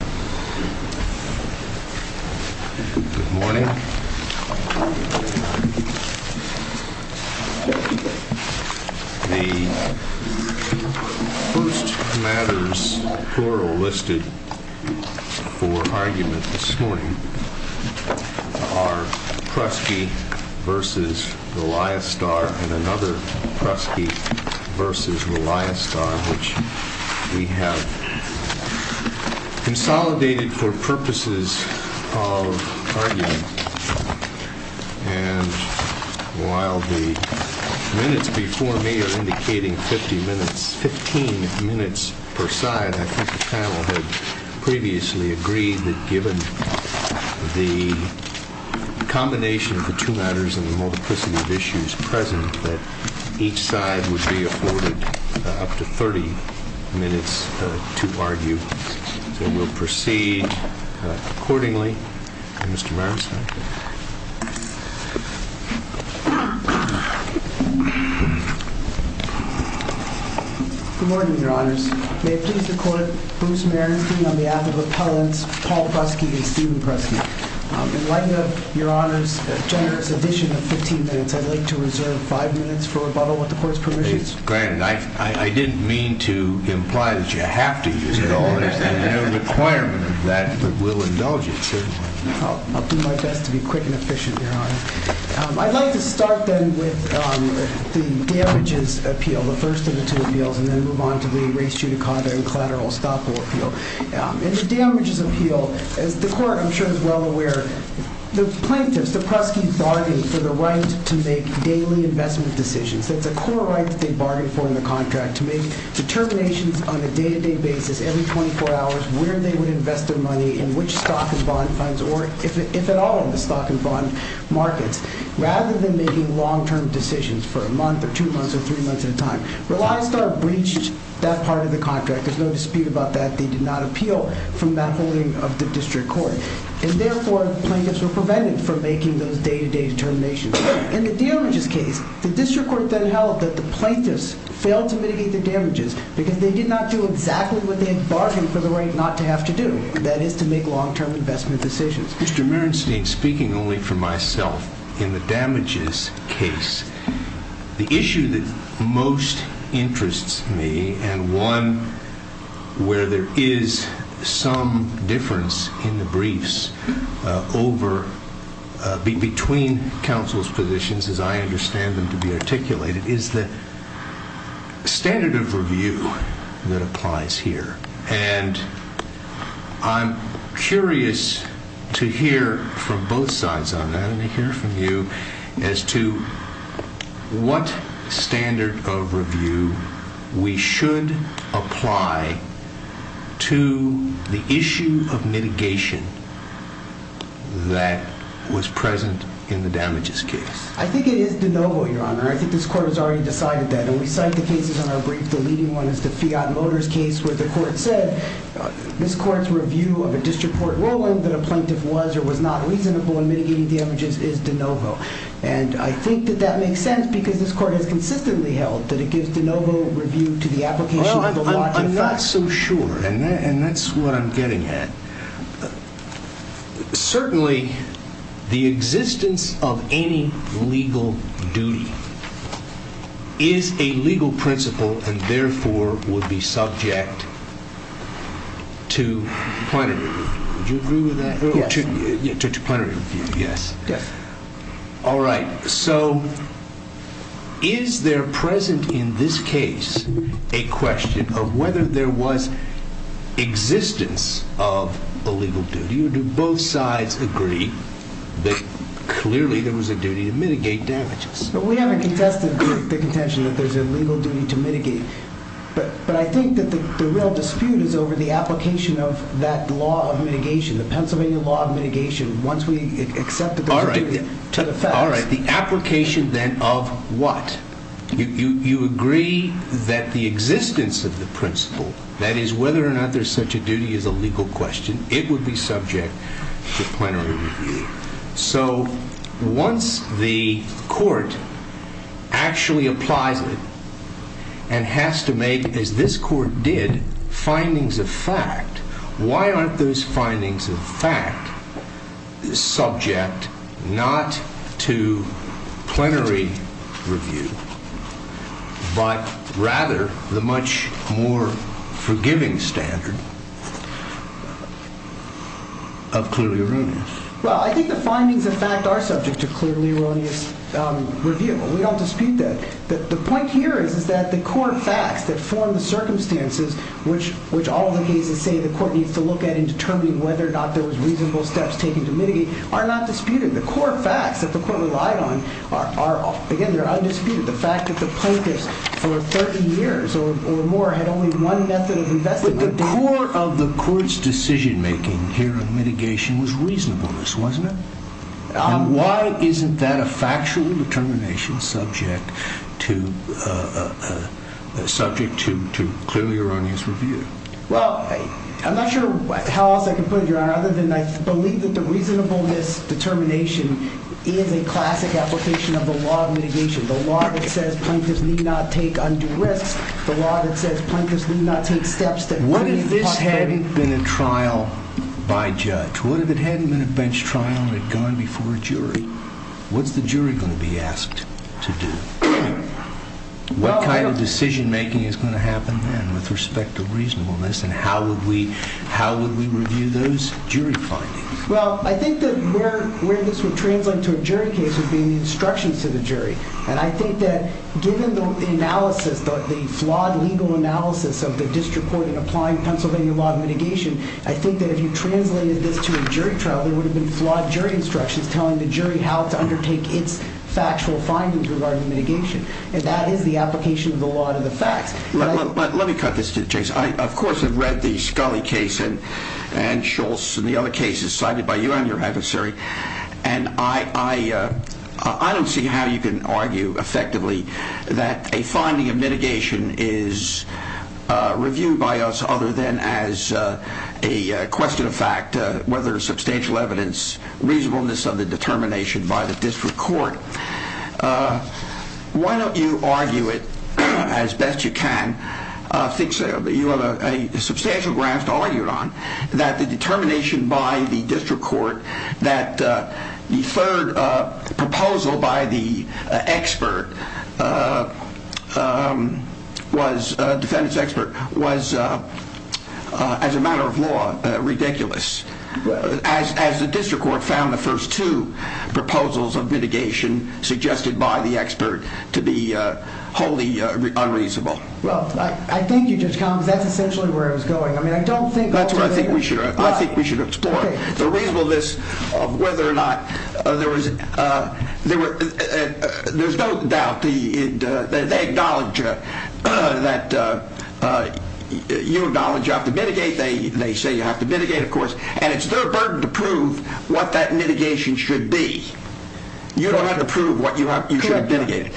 Good morning. The first matters plural listed for argument this morning are Prusky v. Reliastar and another Prusky v. Reliastar which we have consolidated for purposes of argument and while the minutes before me are indicating 15 minutes per side, I think the panel had previously agreed that given the combination of the two matters and the multiplicity of issues present that each side would be afforded up to 30 minutes to argue. So we'll proceed accordingly. Good morning, Your Honors. May it please the Court, Bruce Merensky on behalf of Appellants Paul Prusky and Stephen Preston. In light of Your Honor's generous addition of 15 minutes, I'd like to reserve 5 minutes for rebuttal with the Court's permissions. It's granted. I didn't mean to imply that you have to use it all. There's no requirement of that, but we'll indulge it certainly. I'll do my best to be quick and efficient, Your Honor. I'd like to start then with the damages appeal, the first of the two appeals, and then move on to the race judicata and collateral estoppel appeal. In the damages appeal, as the Court, I'm sure, is well aware, the plaintiffs, the Pruskys, bargained for the right to make daily investment decisions. That's a core right that they bargained for in the contract, to make determinations on a day-to-day basis, every 24 hours, where they would invest their money and which stock and bond funds or if at all in the stock and bond markets, rather than making long-term decisions for a month or two months or three months at a time. Rely Star breached that part of the contract. There's no dispute about that. They did not appeal from that holding of the District Court. And therefore, plaintiffs were prevented from making those day-to-day determinations. In the damages case, the District Court then held that the plaintiffs failed to mitigate the damages because they did not do exactly what they had bargained for the right not to have to do, that is to make long-term investment decisions. Mr. Merenstein, speaking only for myself, in the damages case, the issue that most interests me and one where there is some difference in the briefs between counsel's positions, as I understand them to be articulated, is the standard of review that applies here. And I'm curious to hear from both sides on that and to hear from you as to what standard of review we should apply to the issue of mitigation that was present in the damages case. I think it is de novo, Your Honor. I think this Court has already decided that. And we cite the cases in our brief. The leading one is the Fiat Motors case where the Court said this Court's review of a District Court ruling that a plaintiff was or was not reasonable in mitigating the damages is de novo. And I think that that makes sense because this Court has consistently held that it gives de novo review to the application of the law to the facts. I'm not so sure, and that's what I'm getting at. Certainly, the existence of any legal duty is a legal principle and therefore would be subject to plenary review. Would you agree with that? We haven't contested the contention that there's a legal duty to mitigate. But I think that the real dispute is over the application of that law of mitigation, the Pennsylvania law of mitigation, once we accept that there's a duty to the facts. All right. The application then of what? You agree that the existence of the principle, that is, whether or not there's such a duty is a legal question, it would be subject to plenary review. So once the Court actually applies it and has to make, as this Court did, findings of fact, why aren't those findings of fact subject not to plenary review, but rather the much more forgiving standard of clearly erroneous? I think the findings of fact are subject to clearly erroneous review. We don't dispute that. The point here is that the core facts that form the circumstances which all the cases say the Court needs to look at in determining whether or not there was reasonable steps taken to mitigate are not disputed. The core facts that the Court relied on are, again, they're undisputed. The fact that the plaintiffs for 30 years or more had only one method of investigating. But the core of the Court's decision-making here on mitigation was reasonableness, wasn't it? And why isn't that a factual determination subject to clearly erroneous review? Well, I'm not sure how else I can put it, Your Honor, other than I believe that the reasonableness determination is a classic application of the law of mitigation, the law that says plaintiffs need not take undue risks, the law that says plaintiffs need not take steps that could be possible. What if this hadn't been a trial by judge? What if it hadn't been a bench trial and it had gone before a jury? What's the jury going to be asked to do? What kind of decision-making is going to happen then with respect to reasonableness and how would we review those jury findings? Well, I think that where this would translate to a jury case would be in the instructions to the jury. And I think that given the analysis, the flawed legal analysis of the District Court in applying Pennsylvania law of mitigation, I think that if you translated this to a jury trial, there would have been flawed jury instructions telling the jury how to undertake its factual findings regarding mitigation. And that is the application of the law to the facts. Let me cut this to the chase. I, of course, have read the Scully case and Schultz and the other cases cited by you and your adversary, and I don't see how you can argue effectively that a finding of mitigation is reviewed by us other than as a question of fact, whether substantial evidence, reasonableness of the determination by the District Court. Why don't you argue it as best you can? I think you have a substantial ground to argue it on, that the determination by the District Court that the third proposal by the expert, defendant's expert, was, as a matter of law, ridiculous. As the District Court found the first two proposals of mitigation suggested by the expert to be wholly unreasonable. Well, I thank you, Judge Collins. That's essentially where I was going. I mean, I don't think... I think we should explore the reasonableness of whether or not there was... There's no doubt that they acknowledge that you acknowledge you have to mitigate. They say you have to mitigate, of course, and it's their burden to prove what that mitigation should be. You don't have to prove what you should have mitigated.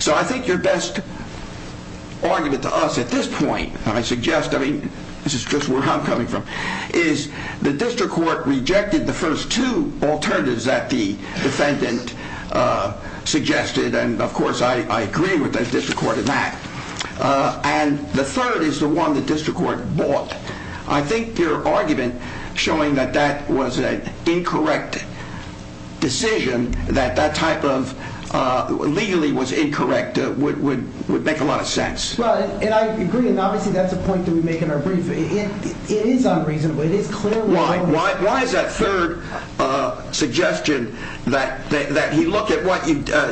So, I think your best argument to us at this point, and I suggest, I mean, this is just where I'm coming from, is the District Court rejected the first two alternatives that the defendant suggested, and of course, I agree with the District Court in that. And the third is the one the District Court bought. I think your argument showing that that was an incorrect decision, that that type of... legally was incorrect, would make a lot of sense. Well, and I agree, and obviously, that's a point that we make in our brief. It is unreasonable. It is clear... Why is that third suggestion that you look at what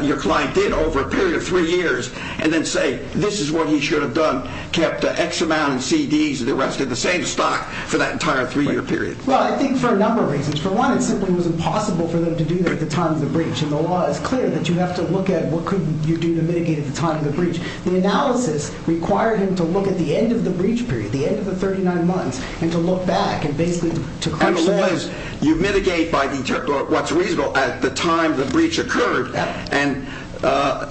your client did over a period of three years and then say, this is what he should have done, kept X amount of CDs and the rest of the same stock for that entire three-year period? Well, I think for a number of reasons. For one, it simply was impossible for them to do that at the time of the breach, and the law is clear that you have to look at what could you do to mitigate at the time of the breach. The analysis required him to look at the end of the breach period, the end of the 39 months, and to look back and basically to crush that. You mitigate by what's reasonable at the time the breach occurred, and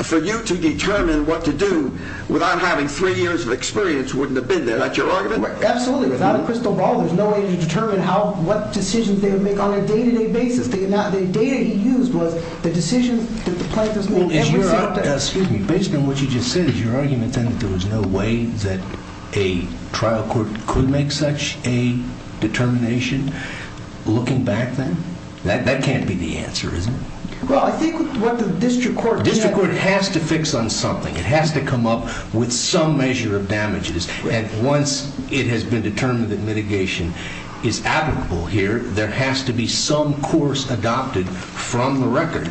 for you to determine what to do without having three years of experience wouldn't have been there. That's your argument? Absolutely. Without a crystal ball, there's no way to determine what decisions they would make on a day-to-day basis. The data he used was the decisions that the plaintiffs made every single day. Excuse me. Based on what you just said, is your argument then that there was no way that a trial court could make such a determination looking back then? That can't be the answer, is it? Well, I think what the district court— The district court has to fix on something. It has to come up with some measure of damages, and once it has been determined that mitigation is applicable here, there has to be some course adopted from the record.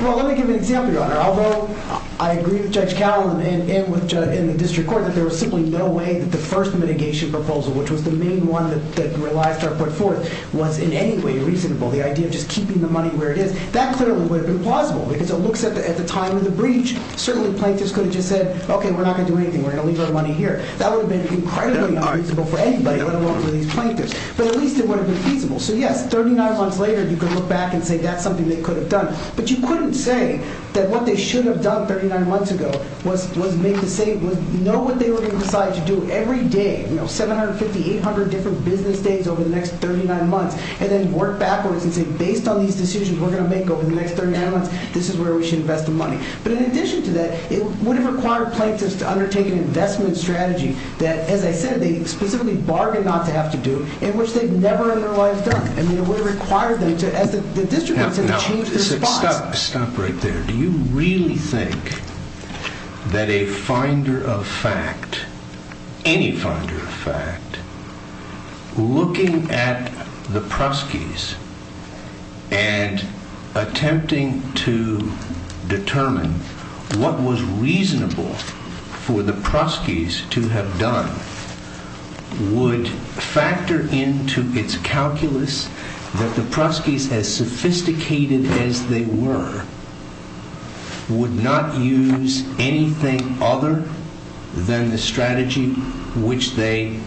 Well, let me give an example, Your Honor. Although I agree with Judge Cowell and with the district court that there was simply no way that the first mitigation proposal, which was the main one that ReliStar put forth, was in any way reasonable. The idea of just keeping the money where it is, that clearly would have been plausible, because it looks at the time of the breach, certainly plaintiffs could have just said, Okay, we're not going to do anything. We're going to leave our money here. That would have been incredibly unreasonable for anybody, let alone for these plaintiffs, but at least it would have been feasible. So yes, 39 months later, you could look back and say that's something they could have done, but you couldn't say that what they should have done 39 months ago was know what they were going to decide to do every day. You know, 750, 800 different business days over the next 39 months, and then work backwards and say, Based on these decisions we're going to make over the next 39 months, this is where we should invest the money. But in addition to that, it would have required plaintiffs to undertake an investment strategy that, as I said, they specifically bargained not to have to do, and which they've never in their lives done. I mean, it would have required them to, as the district has said, change their spots. Stop right there. Do you really think that a finder of fact, any finder of fact, looking at the proskies and attempting to determine what was reasonable for the proskies to have done, would factor into its calculus that the proskies, as sophisticated as they were, would not use anything other than the strategy which they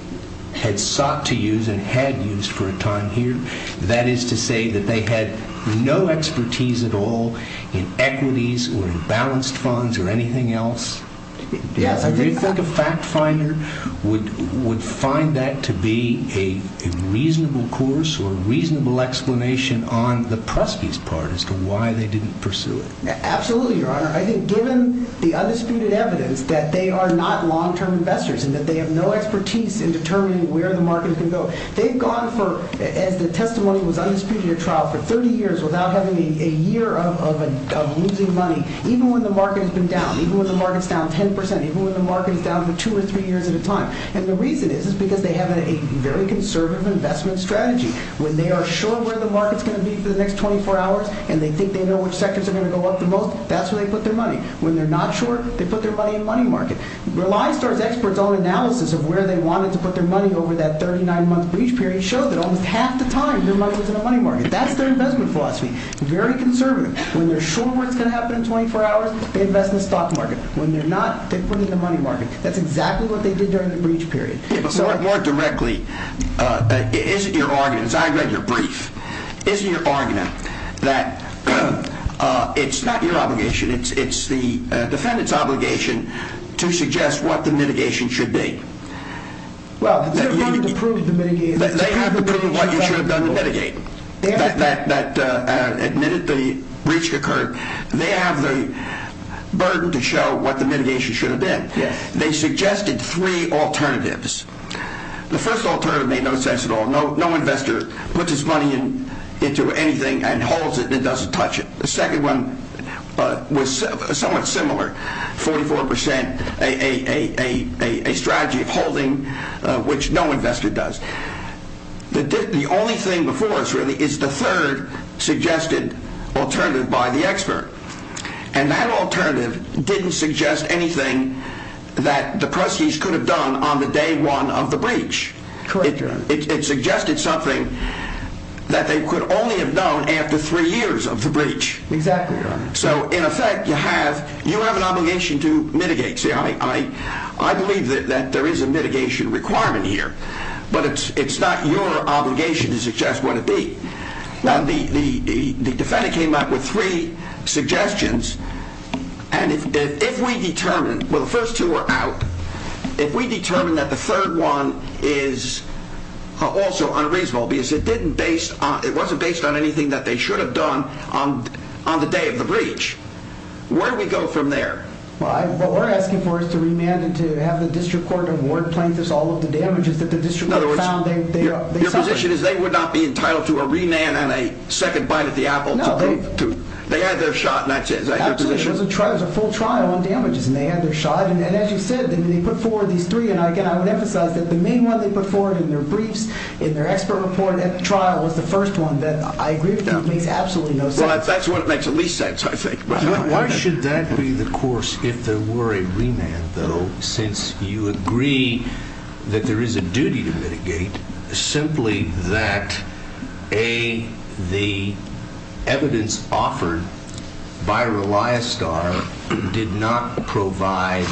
had sought to use and had used for a time here? That is to say that they had no expertise at all in equities or in balanced funds or anything else? Yes. Do you think a fact finder would find that to be a reasonable course or reasonable explanation on the proskies' part as to why they didn't pursue it? Absolutely, Your Honor. I think given the undisputed evidence that they are not long-term investors and that they have no expertise in determining where the market can go, they've gone for, as the testimony was undisputed, a trial for 30 years without having a year of losing money, even when the market has been down, even when the market is down 10 percent, even when the market is down for two or three years at a time. And the reason is because they have a very conservative investment strategy. When they are sure where the market is going to be for the next 24 hours and they think they know which sectors are going to go up the most, that's where they put their money. When they're not sure, they put their money in money market. Reliance Store's experts' own analysis of where they wanted to put their money over that 39-month breach period showed that almost half the time their money was in the money market. That's their investment philosophy. Very conservative. When they're sure where it's going to happen in 24 hours, they invest in the stock market. When they're not, they put it in the money market. That's exactly what they did during the breach period. More directly, is it your argument, as I read your brief, is it your argument that it's not your obligation, it's the defendant's obligation to suggest what the mitigation should be? Well, they have to prove the mitigation. They have to prove what you should have done to mitigate that admitted the breach occurred. They have the burden to show what the mitigation should have been. They suggested three alternatives. The first alternative made no sense at all. No investor puts his money into anything and holds it and doesn't touch it. The second one was somewhat similar, 44%, a strategy of holding, which no investor does. The only thing before us, really, is the third suggested alternative by the expert. And that alternative didn't suggest anything that the proceeds could have done on the day one of the breach. It suggested something that they could only have done after three years of the breach. Exactly. So, in effect, you have an obligation to mitigate. See, I believe that there is a mitigation requirement here, but it's not your obligation to suggest what it be. The defendant came up with three suggestions. And if we determine, well, the first two are out. If we determine that the third one is also unreasonable because it wasn't based on anything that they should have done on the day of the breach, where do we go from there? Well, what we're asking for is to remand and to have the district court award plaintiffs all of the damages that the district court found they suffered. My question is they would not be entitled to a remand and a second bite at the apple? No. They had their shot, and that's it. Absolutely. It was a full trial on damages, and they had their shot. And as you said, they put forward these three. And, again, I would emphasize that the main one they put forward in their briefs, in their expert report at the trial, was the first one. I agree with you. It makes absolutely no sense. Well, that's what makes the least sense, I think. Why should that be the course if there were a remand, though, since you agree that there is a duty to mitigate, simply that the evidence offered by Reliostar did not provide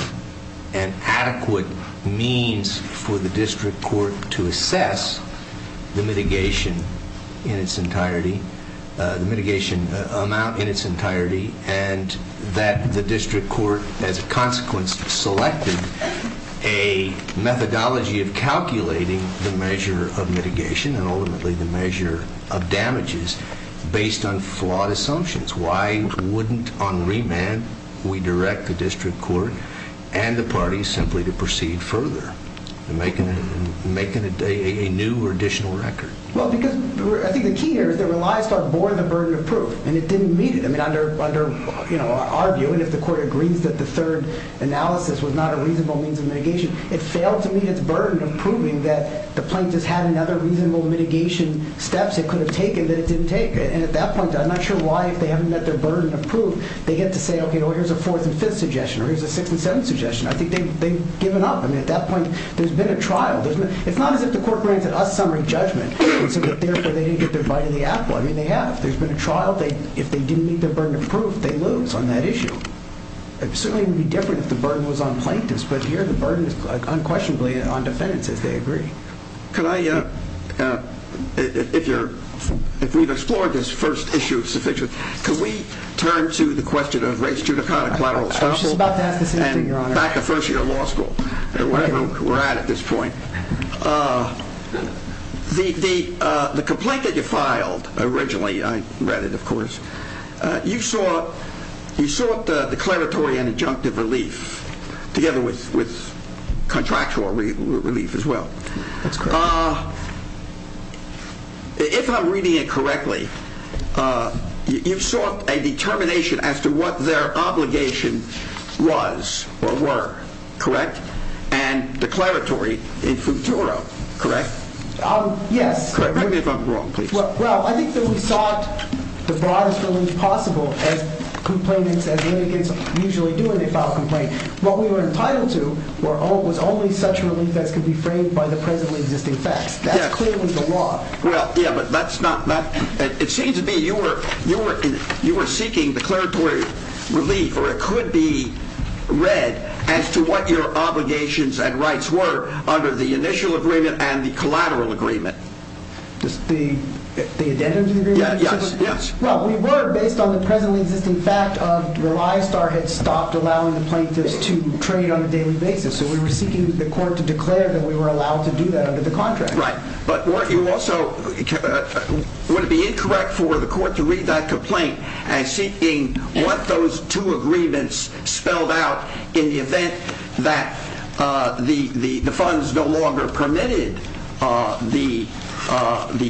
an adequate means for the district court to assess the mitigation in its entirety, the mitigation amount in its entirety, and that the district court, as a consequence, selected a methodology of calculating the measure of mitigation and ultimately the measure of damages based on flawed assumptions? Why wouldn't, on remand, we direct the district court and the parties simply to proceed further, making a new or additional record? Well, because I think the key here is that Reliostar bore the burden of proof, and it didn't meet it. I mean, under our view, and if the court agrees that the third analysis was not a reasonable means of mitigation, it failed to meet its burden of proving that the plaintiffs had another reasonable mitigation steps it could have taken that it didn't take. And at that point, I'm not sure why, if they haven't met their burden of proof, they get to say, okay, well, here's a fourth and fifth suggestion, or here's a sixth and seventh suggestion. I think they've given up. I mean, at that point, there's been a trial. It's not as if the court granted us summary judgment and said that, therefore, they didn't get their bite of the apple. I mean, they have. There's been a trial. If they didn't meet their burden of proof, they lose on that issue. It certainly would be different if the burden was on plaintiffs. But here, the burden is unquestionably on defendants, as they agree. Could I, if we've explored this first issue of suffix, could we turn to the question of race, She's about to ask the same thing, Your Honor. And back to first year of law school, where we're at at this point. The complaint that you filed originally, I read it, of course, you sought declaratory and injunctive relief, together with contractual relief as well. That's correct. If I'm reading it correctly, you sought a determination as to what their obligation was or were, correct? And declaratory in futuro, correct? Yes. Correct me if I'm wrong, please. Well, I think that we sought the broadest relief possible, as complainants, as litigants usually do when they file a complaint. What we were entitled to was only such relief as could be framed by the presently existing facts. That's clearly the law. Well, yeah, but that's not, it seems to me you were seeking declaratory relief, or it could be read, as to what your obligations and rights were under the initial agreement and the collateral agreement. The addendum to the agreement? Yes. Well, we were, based on the presently existing fact of when ISTAR had stopped allowing the plaintiffs to trade on a daily basis. So we were seeking the court to declare that we were allowed to do that under the contract. Right, but weren't you also, would it be incorrect for the court to read that complaint as seeking what those two agreements spelled out in the event that the funds no longer permitted the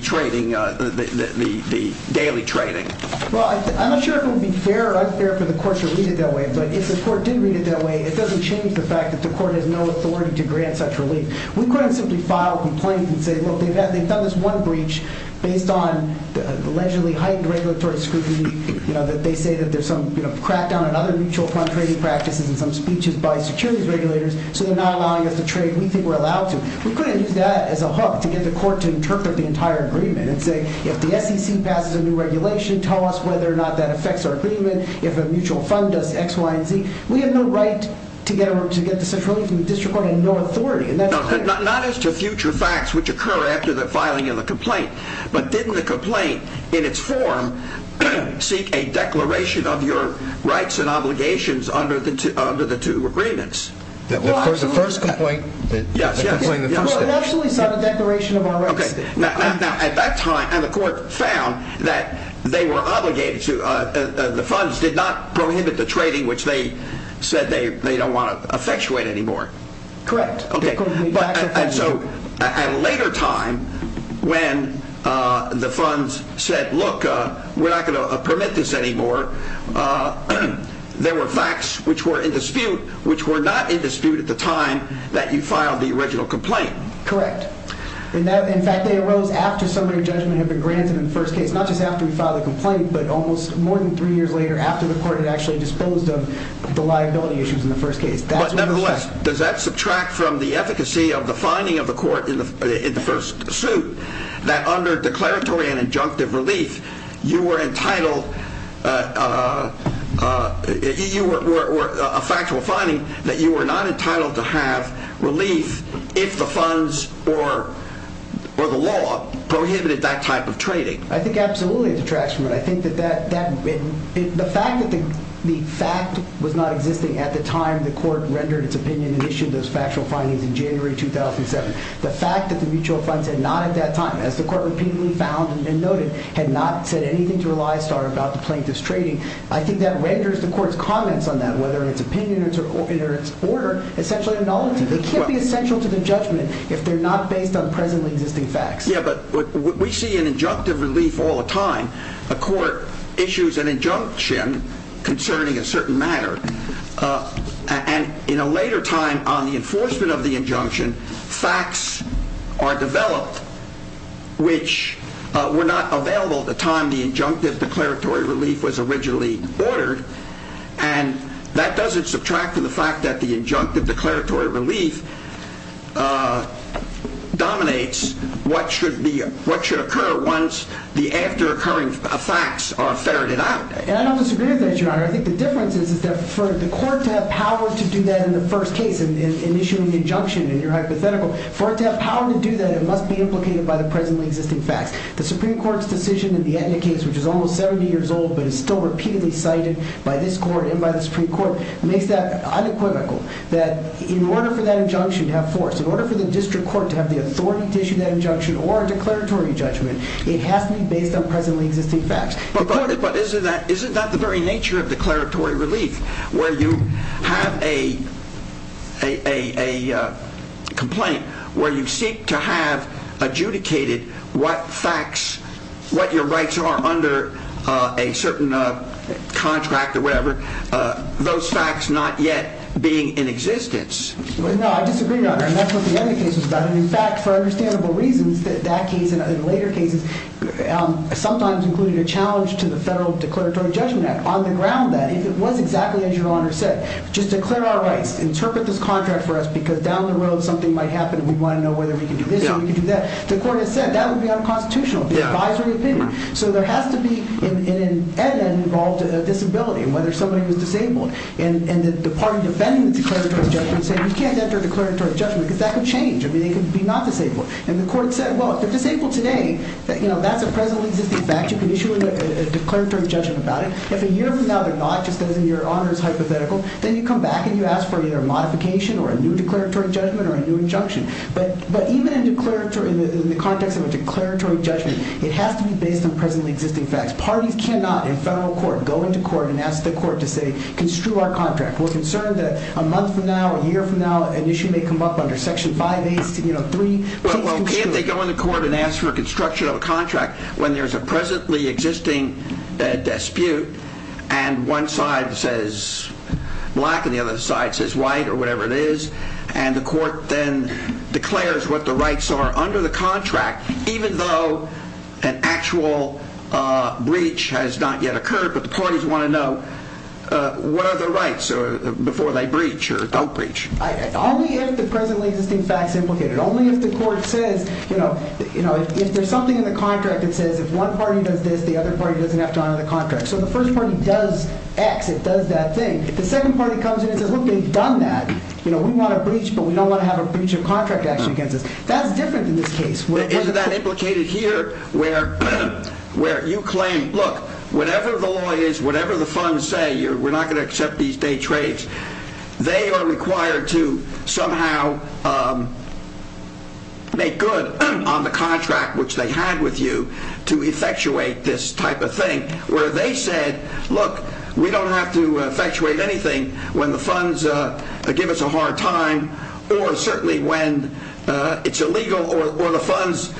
trading, the daily trading? Well, I'm not sure if it would be fair or unfair for the court to read it that way, but if the court did read it that way, it doesn't change the fact that the court has no authority to grant such relief. We couldn't simply file a complaint and say, look, they've done this one breach based on the allegedly heightened regulatory scrutiny, that they say that there's some crackdown on other mutual fund trading practices and some speeches by securities regulators, so they're not allowing us to trade we think we're allowed to. We couldn't use that as a hook to get the court to interpret the entire agreement and say, if the SEC passes a new regulation, tell us whether or not that affects our agreement. If a mutual fund does X, Y, and Z, we have no right to get to such relief from the district court and no authority. Not as to future facts, which occur after the filing of the complaint, but didn't the complaint in its form seek a declaration of your rights and obligations under the two agreements? The first complaint, the complaint in the first stage. Well, it actually sought a declaration of our rights. Now, at that time, the court found that the funds did not prohibit the trading, which they said they don't want to effectuate anymore. Correct. At a later time, when the funds said, look, we're not going to permit this anymore, there were facts which were in dispute, which were not in dispute at the time that you filed the original complaint. Correct. In fact, they arose after summary judgment had been granted in the first case. Not just after we filed the complaint, but almost more than three years later, after the court had actually disposed of the liability issues in the first case. But nevertheless, does that subtract from the efficacy of the finding of the court in the first suit that under declaratory and injunctive relief, you were entitled, a factual finding, that you were not entitled to have relief if the funds or the law prohibited that type of trading? I think absolutely it detracts from it. The fact that the fact was not existing at the time the court rendered its opinion and issued those factual findings in January 2007, the fact that the mutual funds had not at that time, as the court repeatedly found and noted, had not said anything to Elias Starr about the plaintiff's trading, I think that renders the court's comments on that, whether in its opinion or in its order, essentially a nullity. They can't be essential to the judgment if they're not based on presently existing facts. Yeah, but we see an injunctive relief all the time. A court issues an injunction concerning a certain matter, and in a later time on the enforcement of the injunction, facts are developed which were not available at the time the injunctive declaratory relief was originally ordered. And that doesn't subtract from the fact that the injunctive declaratory relief dominates what should occur once the after occurring facts are ferreted out. And I don't disagree with that, Your Honor. I think the difference is that for the court to have power to do that in the first case, in issuing the injunction in your hypothetical, for it to have power to do that, it must be implicated by the presently existing facts. The Supreme Court's decision in the Etna case, which is almost 70 years old but is still repeatedly cited by this court and by the Supreme Court, makes that unequivocal. That in order for that injunction to have force, in order for the district court to have the authority to issue that injunction or a declaratory judgment, it has to be based on presently existing facts. But isn't that the very nature of declaratory relief, where you have a complaint where you seek to have adjudicated what facts, what your rights are under a certain contract or whatever, those facts not yet being in existence? No, I disagree, Your Honor. And that's what the Etna case was about. And in fact, for understandable reasons, that case and later cases sometimes included a challenge to the Federal Declaratory Judgment Act on the ground that if it was exactly as Your Honor said, just declare our rights, interpret this contract for us because down the road something might happen and we want to know whether we can do this or we can do that. The court has said that would be unconstitutional. It would be advisory opinion. So there has to be in an Etna involved a disability, whether somebody was disabled. And the party defending the declaratory judgment said, you can't enter a declaratory judgment because that could change. I mean, they could be not disabled. And the court said, well, if they're disabled today, that's a presently existing fact. You can issue a declaratory judgment about it. If a year from now they're not, just as in Your Honor's hypothetical, then you come back and you ask for either a modification or a new declaratory judgment or a new injunction. But even in the context of a declaratory judgment, it has to be based on presently existing facts. Parties cannot, in federal court, go into court and ask the court to say, construe our contract. We're concerned that a month from now, a year from now, an issue may come up under Section 5A, you know, 3. Well, can't they go into court and ask for construction of a contract when there's a presently existing dispute and one side says black and the other side says white or whatever it is? And the court then declares what the rights are under the contract, even though an actual breach has not yet occurred. But the parties want to know what are the rights before they breach or don't breach. Only if the presently existing fact is implicated. Only if the court says, you know, if there's something in the contract that says if one party does this, the other party doesn't have to honor the contract. So the first party does X. It does that thing. The second party comes in and says, look, they've done that. You know, we want a breach, but we don't want to have a breach of contract action against us. That's different in this case. Isn't that implicated here where you claim, look, whatever the law is, whatever the funds say, we're not going to accept these day trades. They are required to somehow make good on the contract which they had with you to effectuate this type of thing. Where they said, look, we don't have to effectuate anything when the funds give us a hard time or certainly when it's illegal or the funds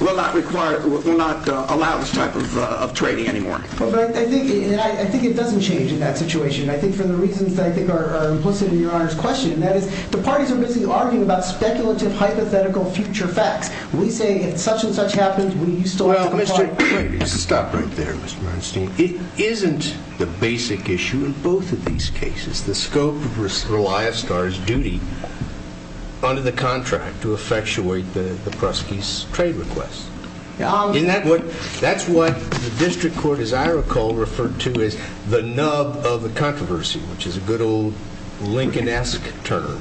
will not allow this type of trading anymore. I think it doesn't change in that situation. I think for the reasons that I think are implicit in your Honor's question, that is the parties are busy arguing about speculative, hypothetical future facts. We say if such and such happens, we still have to comply. I can stop right there, Mr. Bernstein. It isn't the basic issue in both of these cases. The scope of Relia Star's duty under the contract to effectuate the Pruski's trade request. That's what the district court, as I recall, referred to as the nub of the controversy, which is a good old Lincoln-esque term.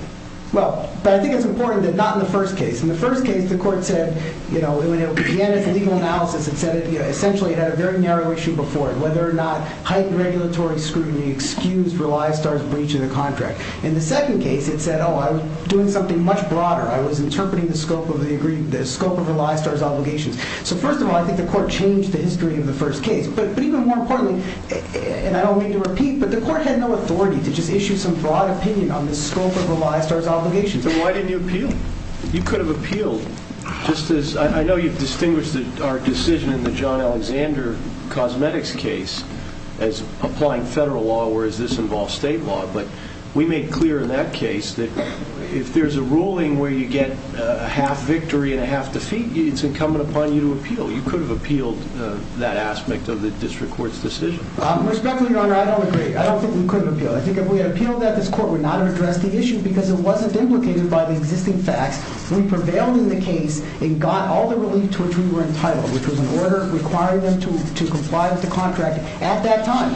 Well, but I think it's important that not in the first case. In the first case, the court said, when it began its legal analysis, it said essentially it had a very narrow issue before it. Whether or not heightened regulatory scrutiny excused Relia Star's breach of the contract. In the second case, it said, oh, I was doing something much broader. I was interpreting the scope of Relia Star's obligations. So first of all, I think the court changed the history of the first case. But even more importantly, and I don't mean to repeat, but the court had no authority to just issue some broad opinion on the scope of Relia Star's obligations. So why didn't you appeal? You could have appealed. I know you've distinguished our decision in the John Alexander Cosmetics case as applying federal law, whereas this involves state law. But we made clear in that case that if there's a ruling where you get a half victory and a half defeat, it's incumbent upon you to appeal. You could have appealed that aspect of the district court's decision. Respectfully, Your Honor, I don't agree. I don't think we could have appealed. I think if we had appealed that, this court would not have addressed the issue because it wasn't implicated by the existing facts. We prevailed in the case and got all the relief to which we were entitled, which was an order requiring them to comply with the contract at that time.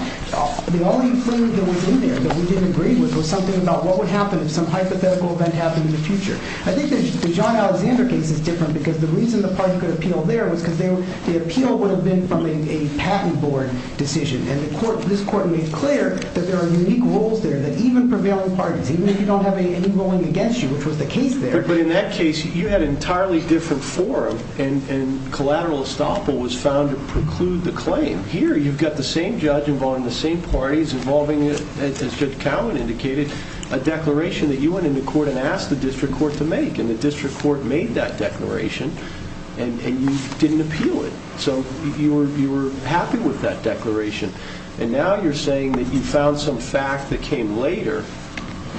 The only thing that was in there that we didn't agree with was something about what would happen if some hypothetical event happened in the future. I think the John Alexander case is different because the reason the party could appeal there was because the appeal would have been from a patent board decision. And this court made clear that there are unique roles there that even prevailing parties, even if you don't have any ruling against you, which was the case there. But in that case, you had an entirely different forum, and collateral estoppel was found to preclude the claim. Here, you've got the same judge involving the same parties involving, as Judge Cowen indicated, a declaration that you went into court and asked the district court to make. And the district court made that declaration, and you didn't appeal it. So you were happy with that declaration. And now you're saying that you found some fact that came later,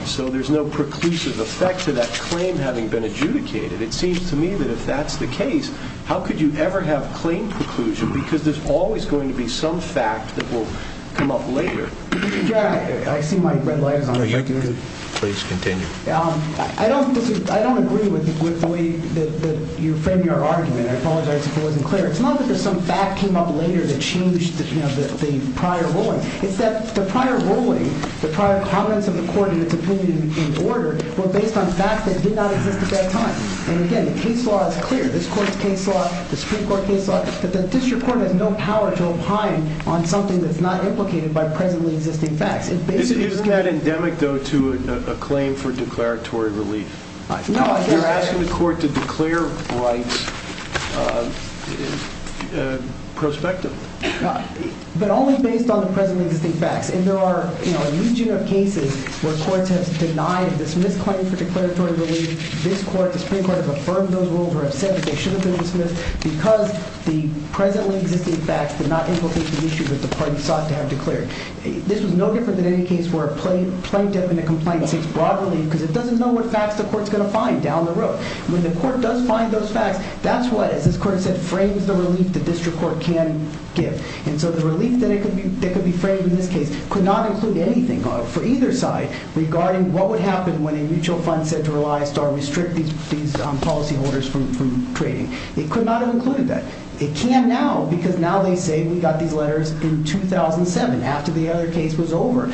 so there's no preclusive effect to that claim having been adjudicated. It seems to me that if that's the case, how could you ever have claim preclusion? Because there's always going to be some fact that will come up later. I see my red light is on. Please continue. I don't agree with the way that you frame your argument. I apologize if it wasn't clear. It's not that there's some fact that came up later that changed the prior ruling. It's that the prior ruling, the prior comments of the court in its opinion in order, were based on facts that did not exist at that time. And again, the case law is clear. This court's case law, the Supreme Court case law. But the district court has no power to opine on something that's not implicated by presently existing facts. Is that endemic, though, to a claim for declaratory relief? You're asking the court to declare rights prospective. But only based on the presently existing facts. And there are a huge number of cases where courts have denied and dismissed claims for declaratory relief. This court, the Supreme Court, have affirmed those rules or have said that they shouldn't have been dismissed because the presently existing facts did not implicate the issues that the parties sought to have declared. This was no different than any case where a plaintiff in a complaint seeks broad relief because it doesn't know what facts the court's going to find down the road. When the court does find those facts, that's what, as this court has said, frames the relief the district court can give. And so the relief that could be framed in this case could not include anything for either side regarding what would happen when a mutual fund said to rely or restrict these policyholders from trading. It could not have included that. It can now, because now they say we got these letters in 2007, after the other case was over,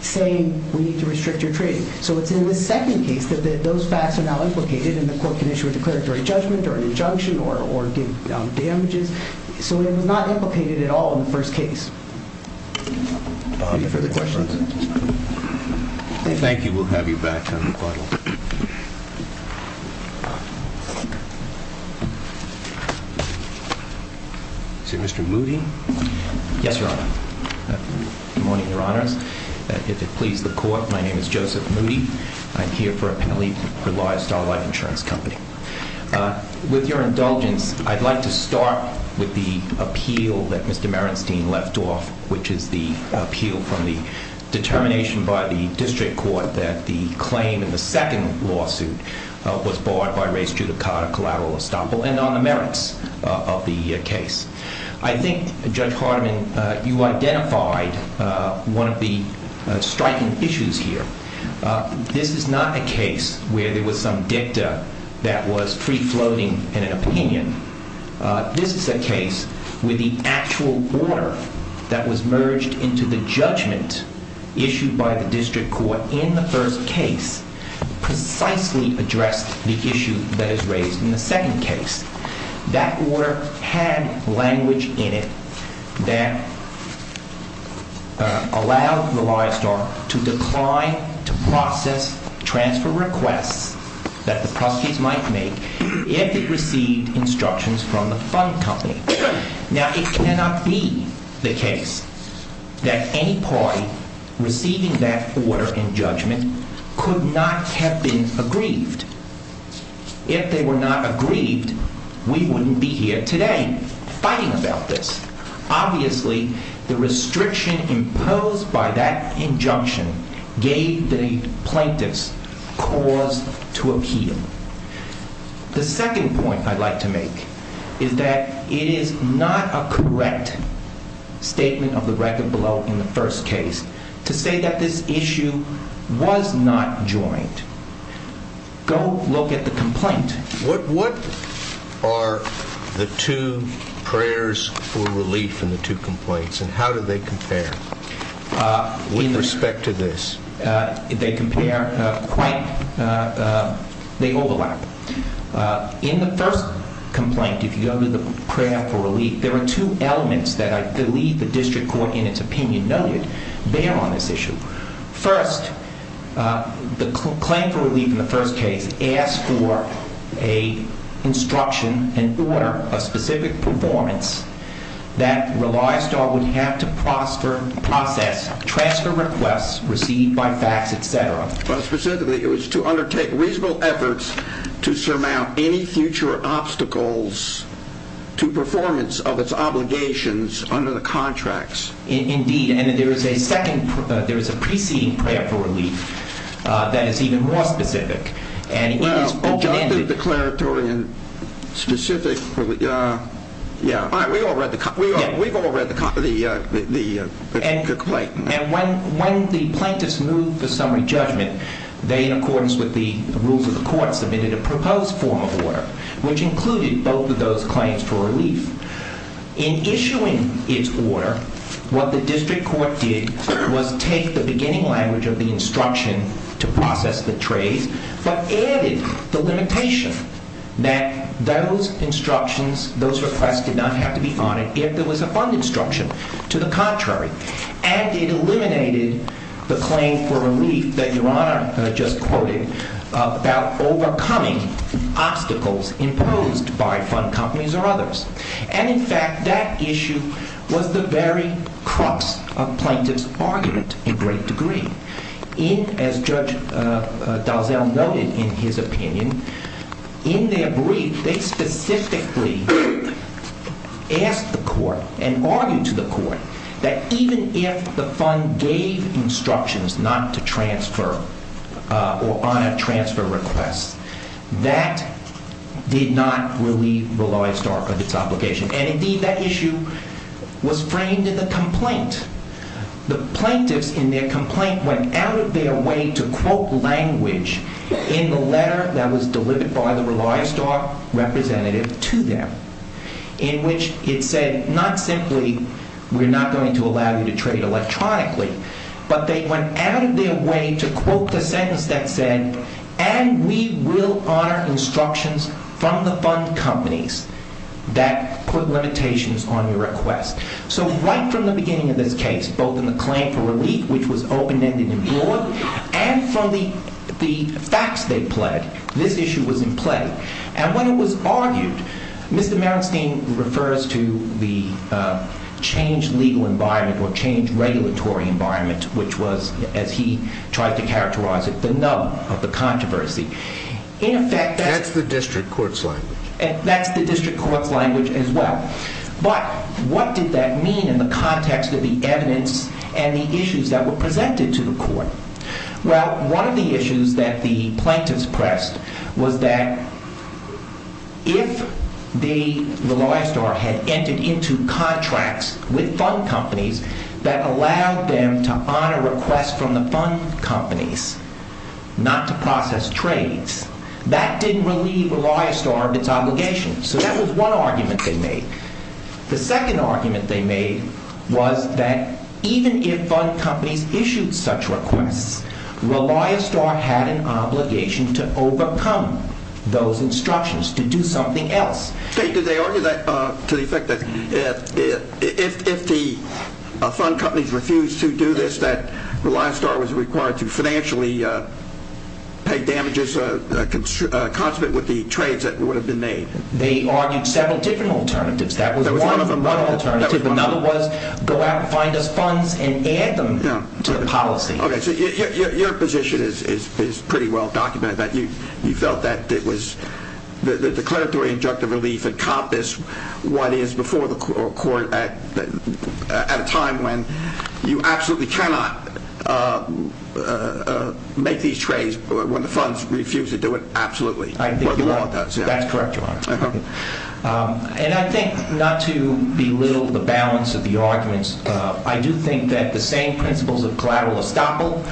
saying we need to restrict your trading. So it's in the second case that those facts are now implicated and the court can issue a declaratory judgment or an injunction or give damages. So it was not implicated at all in the first case. Any further questions? Thank you. We'll have you back on the final. Is it Mr. Moody? Yes, Your Honor. Good morning, Your Honors. If it pleases the court, my name is Joseph Moody. I'm here for a penalty for the law at Star Life Insurance Company. With your indulgence, I'd like to start with the appeal that Mr. Merenstein left off, which is the appeal from the determination by the district court that the claim in the second lawsuit was barred by race, judicata, collateral estoppel, and on the merits of the case. I think, Judge Hardiman, you identified one of the striking issues here. This is not a case where there was some dicta that was free-floating in an opinion. This is a case where the actual order that was merged into the judgment issued by the district court in the first case precisely addressed the issue that is raised in the second case. That order had language in it that allowed the law at Star to decline to process transfer requests that the prosecutors might make if it received instructions from the fund company. Now, it cannot be the case that any party receiving that order in judgment could not have been aggrieved. If they were not aggrieved, we wouldn't be here today fighting about this. Obviously, the restriction imposed by that injunction gave the plaintiffs cause to appeal. The second point I'd like to make is that it is not a correct statement of the record below in the first case to say that this issue was not joint. Go look at the complaint. What are the two prayers for relief in the two complaints, and how do they compare with respect to this? They overlap. In the first complaint, if you go to the prayer for relief, there are two elements that I believe the district court in its opinion noted bear on this issue. First, the complaint for relief in the first case asked for an instruction, an order, a specific performance that relies on would have to process transfer requests received by fax, etc. Specifically, it was to undertake reasonable efforts to surmount any future obstacles to performance of its obligations under the contracts. Indeed, and there is a second, there is a preceding prayer for relief that is even more specific, and it is open-ended. Well, adjunctive, declaratory, and specific, yeah. All right, we've all read the complaint. And when the plaintiffs moved the summary judgment, they, in accordance with the rules of the court, submitted a proposed form of order, which included both of those claims for relief. In issuing its order, what the district court did was take the beginning language of the instruction to process the trades, but added the limitation that those instructions, those requests, did not have to be honored if there was a fund instruction. To the contrary, and it eliminated the claim for relief that Your Honor just quoted about overcoming obstacles imposed by fund companies or others. And in fact, that issue was the very crux of plaintiff's argument in great degree. In, as Judge Dalzell noted in his opinion, in their brief, they specifically asked the court and argued to the court that even if the fund gave instructions not to transfer or honor transfer requests, that did not relieve Roloi Stark of its obligation. And indeed, that issue was framed in the complaint. The plaintiffs, in their complaint, went out of their way to quote language in the letter that was delivered by the Roloi Stark representative to them, in which it said not simply, we're not going to allow you to trade electronically. But they went out of their way to quote the sentence that said, and we will honor instructions from the fund companies that put limitations on your request. So right from the beginning of this case, both in the claim for relief, which was open-ended and broad, and from the facts they pled, this issue was in play. And when it was argued, Mr. Merenstein refers to the changed legal environment or changed regulatory environment, which was, as he tried to characterize it, the nub of the controversy. That's the district court's language. That's the district court's language as well. But what did that mean in the context of the evidence and the issues that were presented to the court? Well, one of the issues that the plaintiffs pressed was that if the Roloi Stark had entered into contracts with fund companies that allowed them to honor requests from the fund companies not to process trades, that didn't relieve Roloi Stark of its obligation. So that was one argument they made. The second argument they made was that even if fund companies issued such requests, Roloi Stark had an obligation to overcome those instructions, to do something else. Did they argue that to the effect that if the fund companies refused to do this, that Roloi Stark was required to financially pay damages consummate with the trades that would have been made? They argued several different alternatives. That was one alternative. Another was go out and find us funds and add them to the policy. Okay. So your position is pretty well documented, that you felt that it was the declaratory injunctive relief encompassed what is before the court at a time when you absolutely cannot make these trades when the funds refuse to do it. Absolutely. That's correct, Your Honor. And I think not to belittle the balance of the arguments, I do think that the same principles of collateral estoppel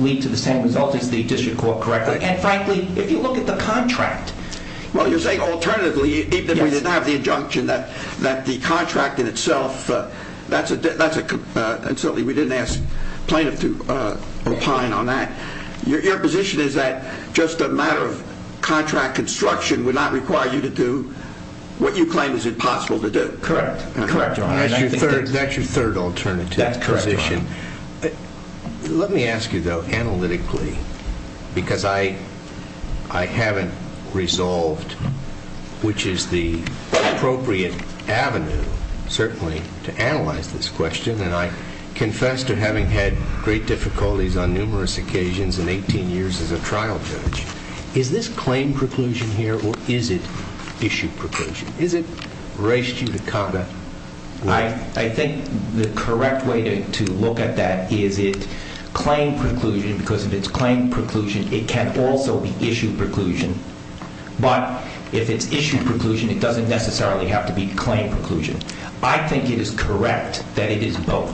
lead to the same result as the district court correctly. And frankly, if you look at the contract. Well, you're saying alternatively, even if we didn't have the injunction that the contract in itself, that's a, and certainly we didn't ask plaintiff to opine on that. Your position is that just a matter of contract construction would not require you to do what you claim is impossible to do. Correct. That's your third alternative. That's correct, Your Honor. Let me ask you, though, analytically, because I haven't resolved which is the appropriate avenue, certainly, to analyze this question. And I confess to having had great difficulties on numerous occasions in 18 years as a trial judge. Is this claim preclusion here or is it issue preclusion? Is it ratio to conduct? I think the correct way to look at that is it claim preclusion, because if it's claim preclusion, it can also be issue preclusion. But if it's issue preclusion, it doesn't necessarily have to be claim preclusion. I think it is correct that it is both.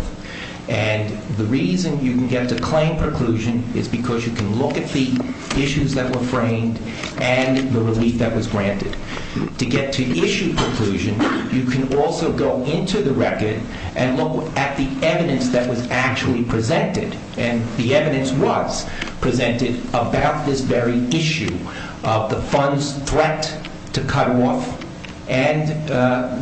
And the reason you can get to claim preclusion is because you can look at the issues that were framed and the relief that was granted. To get to issue preclusion, you can also go into the record and look at the evidence that was actually presented. And the evidence was presented about this very issue of the fund's threat to cut off and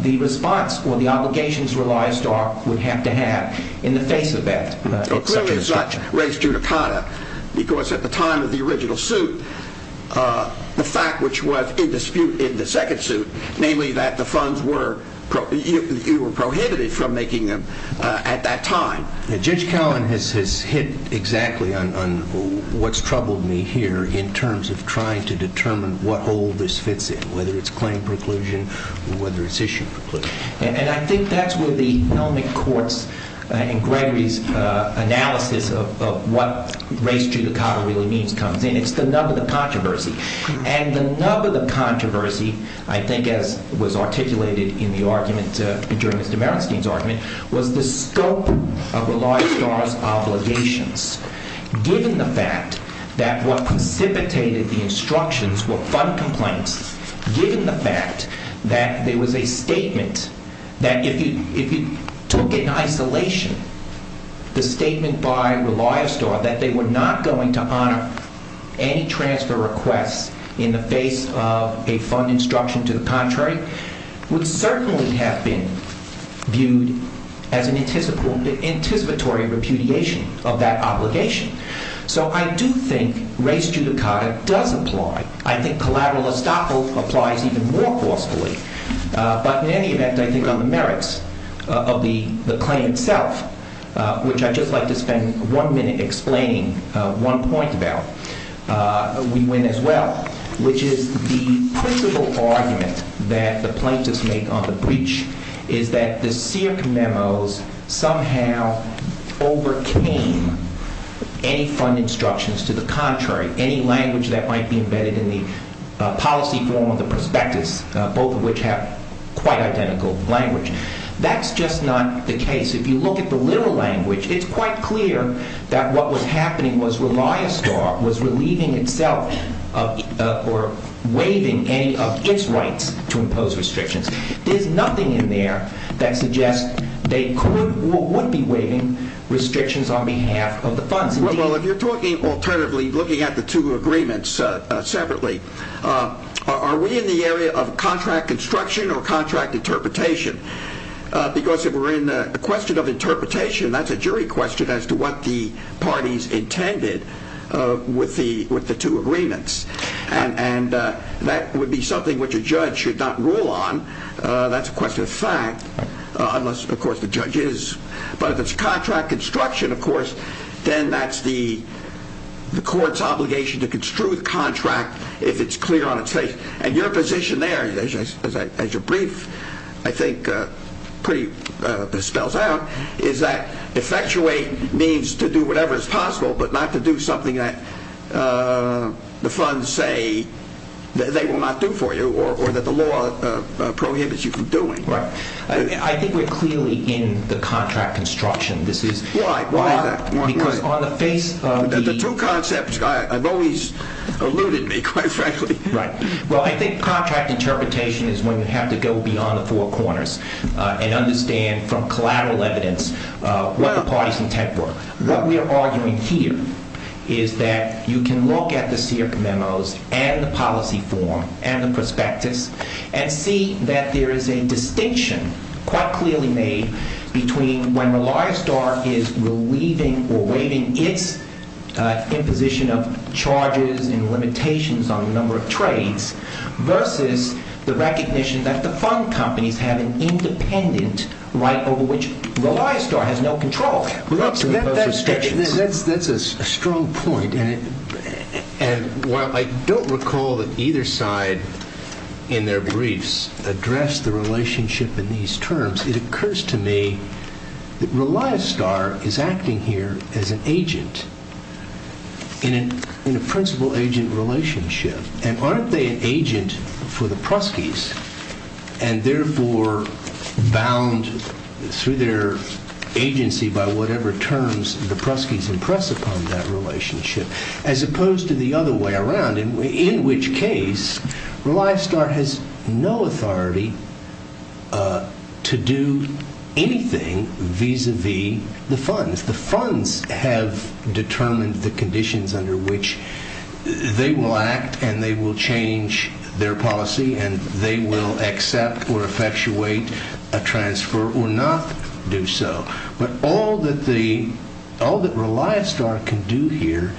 the response or the obligations Reliance Star would have to have in the face of that. So clearly it's not race judicata, because at the time of the original suit, the fact which was in dispute in the second suit, namely that the funds were prohibited from making them at that time. Judge Cowan has hit exactly on what's troubled me here in terms of trying to determine what hole this fits in, whether it's claim preclusion or whether it's issue preclusion. And I think that's where the Helmick Court's and Gregory's analysis of what race judicata really means comes in. It's the nub of the controversy. And the nub of the controversy, I think, as was articulated in the argument during Mr. Merenstein's argument, was the scope of Reliance Star's obligations. Given the fact that what precipitated the instructions were fund complaints, given the fact that there was a statement that if you took it in isolation, the statement by Reliance Star that they were not going to honor any transfer requests in the face of a fund instruction to the contrary, would certainly have been viewed as an anticipatory repudiation of that obligation. So I do think race judicata does apply. I think collateral estoppel applies even more forcefully. But in any event, I think on the merits of the claim itself, which I'd just like to spend one minute explaining one point about, we win as well. Which is the principle argument that the plaintiffs make on the breach is that the Searc memos somehow overcame any fund instructions to the contrary, any language that might be embedded in the policy form of the prospectus, both of which have quite identical language. That's just not the case. If you look at the literal language, it's quite clear that what was happening was Reliance Star was relieving itself or waiving any of its rights to impose restrictions. There's nothing in there that suggests they would be waiving restrictions on behalf of the funds. Well, if you're talking alternatively, looking at the two agreements separately, are we in the area of contract construction or contract interpretation? Because if we're in the question of interpretation, that's a jury question as to what the parties intended with the two agreements. And that would be something which a judge should not rule on. That's a question of fact. Unless, of course, the judge is. But if it's contract construction, of course, then that's the court's obligation to construe the contract if it's clear on its face. And your position there, as your brief, I think pretty spells out, is that effectuate means to do whatever is possible, but not to do something that the funds say that they will not do for you or that the law prohibits you from doing. Right. I think we're clearly in the contract construction. This is why. Because on the face of the two concepts, I've always alluded me quite frankly. Right. Well, I think contract interpretation is when you have to go beyond the four corners and understand from collateral evidence what the parties intent were. What we are arguing here is that you can look at the SIRC memos and the policy form and the prospectus and see that there is a distinction quite clearly made between when Reliostar is relieving or waiving its imposition of charges and limitations on the number of trades versus the recognition that the fund companies have an independent right over which Reliostar has no control. That's a strong point. And while I don't recall that either side in their briefs addressed the relationship in these terms, it occurs to me that Reliostar is acting here as an agent in a principal agent relationship. And aren't they an agent for the Pruskys and therefore bound through their agency by whatever terms the Pruskys impress upon that relationship as opposed to the other way around? In which case, Reliostar has no authority to do anything vis-a-vis the funds. The funds have determined the conditions under which they will act and they will change their policy and they will accept or effectuate a transfer or not do so. But all that Reliostar can do here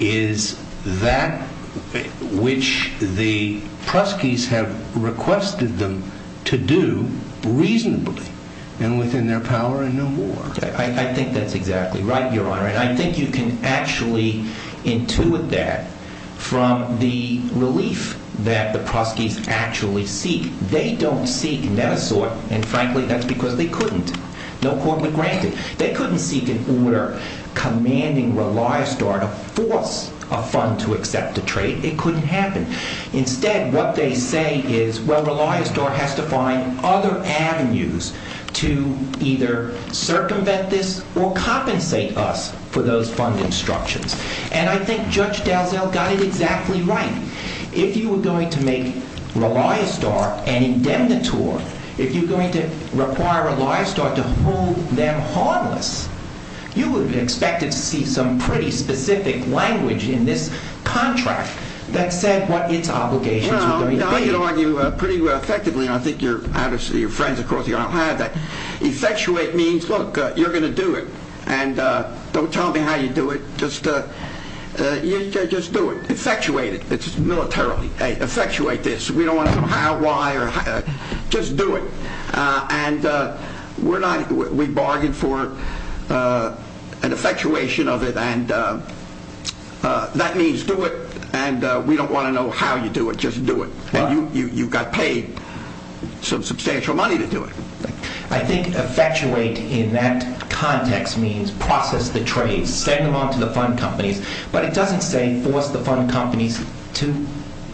is that which the Pruskys have requested them to do reasonably and within their power and no more. I think that's exactly right, Your Honor. And I think you can actually intuit that from the relief that the Pruskys actually seek. They don't seek net-a-sort and frankly, that's because they couldn't. No court would grant it. They couldn't seek an order commanding Reliostar to force a fund to accept a trade. It couldn't happen. Instead, what they say is, well, Reliostar has to find other avenues to either circumvent this or compensate us for those fund instructions. And I think Judge Dalziel got it exactly right. If you were going to make Reliostar an indemnitor, if you're going to require Reliostar to hold them harmless, you would have expected to see some pretty specific language in this contract that said what its obligations were going to be. Well, I can argue pretty effectively, and I think your friends, of course, you don't have that. Effectuate means, look, you're going to do it and don't tell me how you do it. Just do it. Effectuate it militarily. Effectuate this. We don't want to know how, why or how. Just do it. And we bargain for an effectuation of it and that means do it and we don't want to know how you do it. Just do it. And you've got paid some substantial money to do it. I think effectuate in that context means process the trade, send them on to the fund companies. But it doesn't say force the fund companies to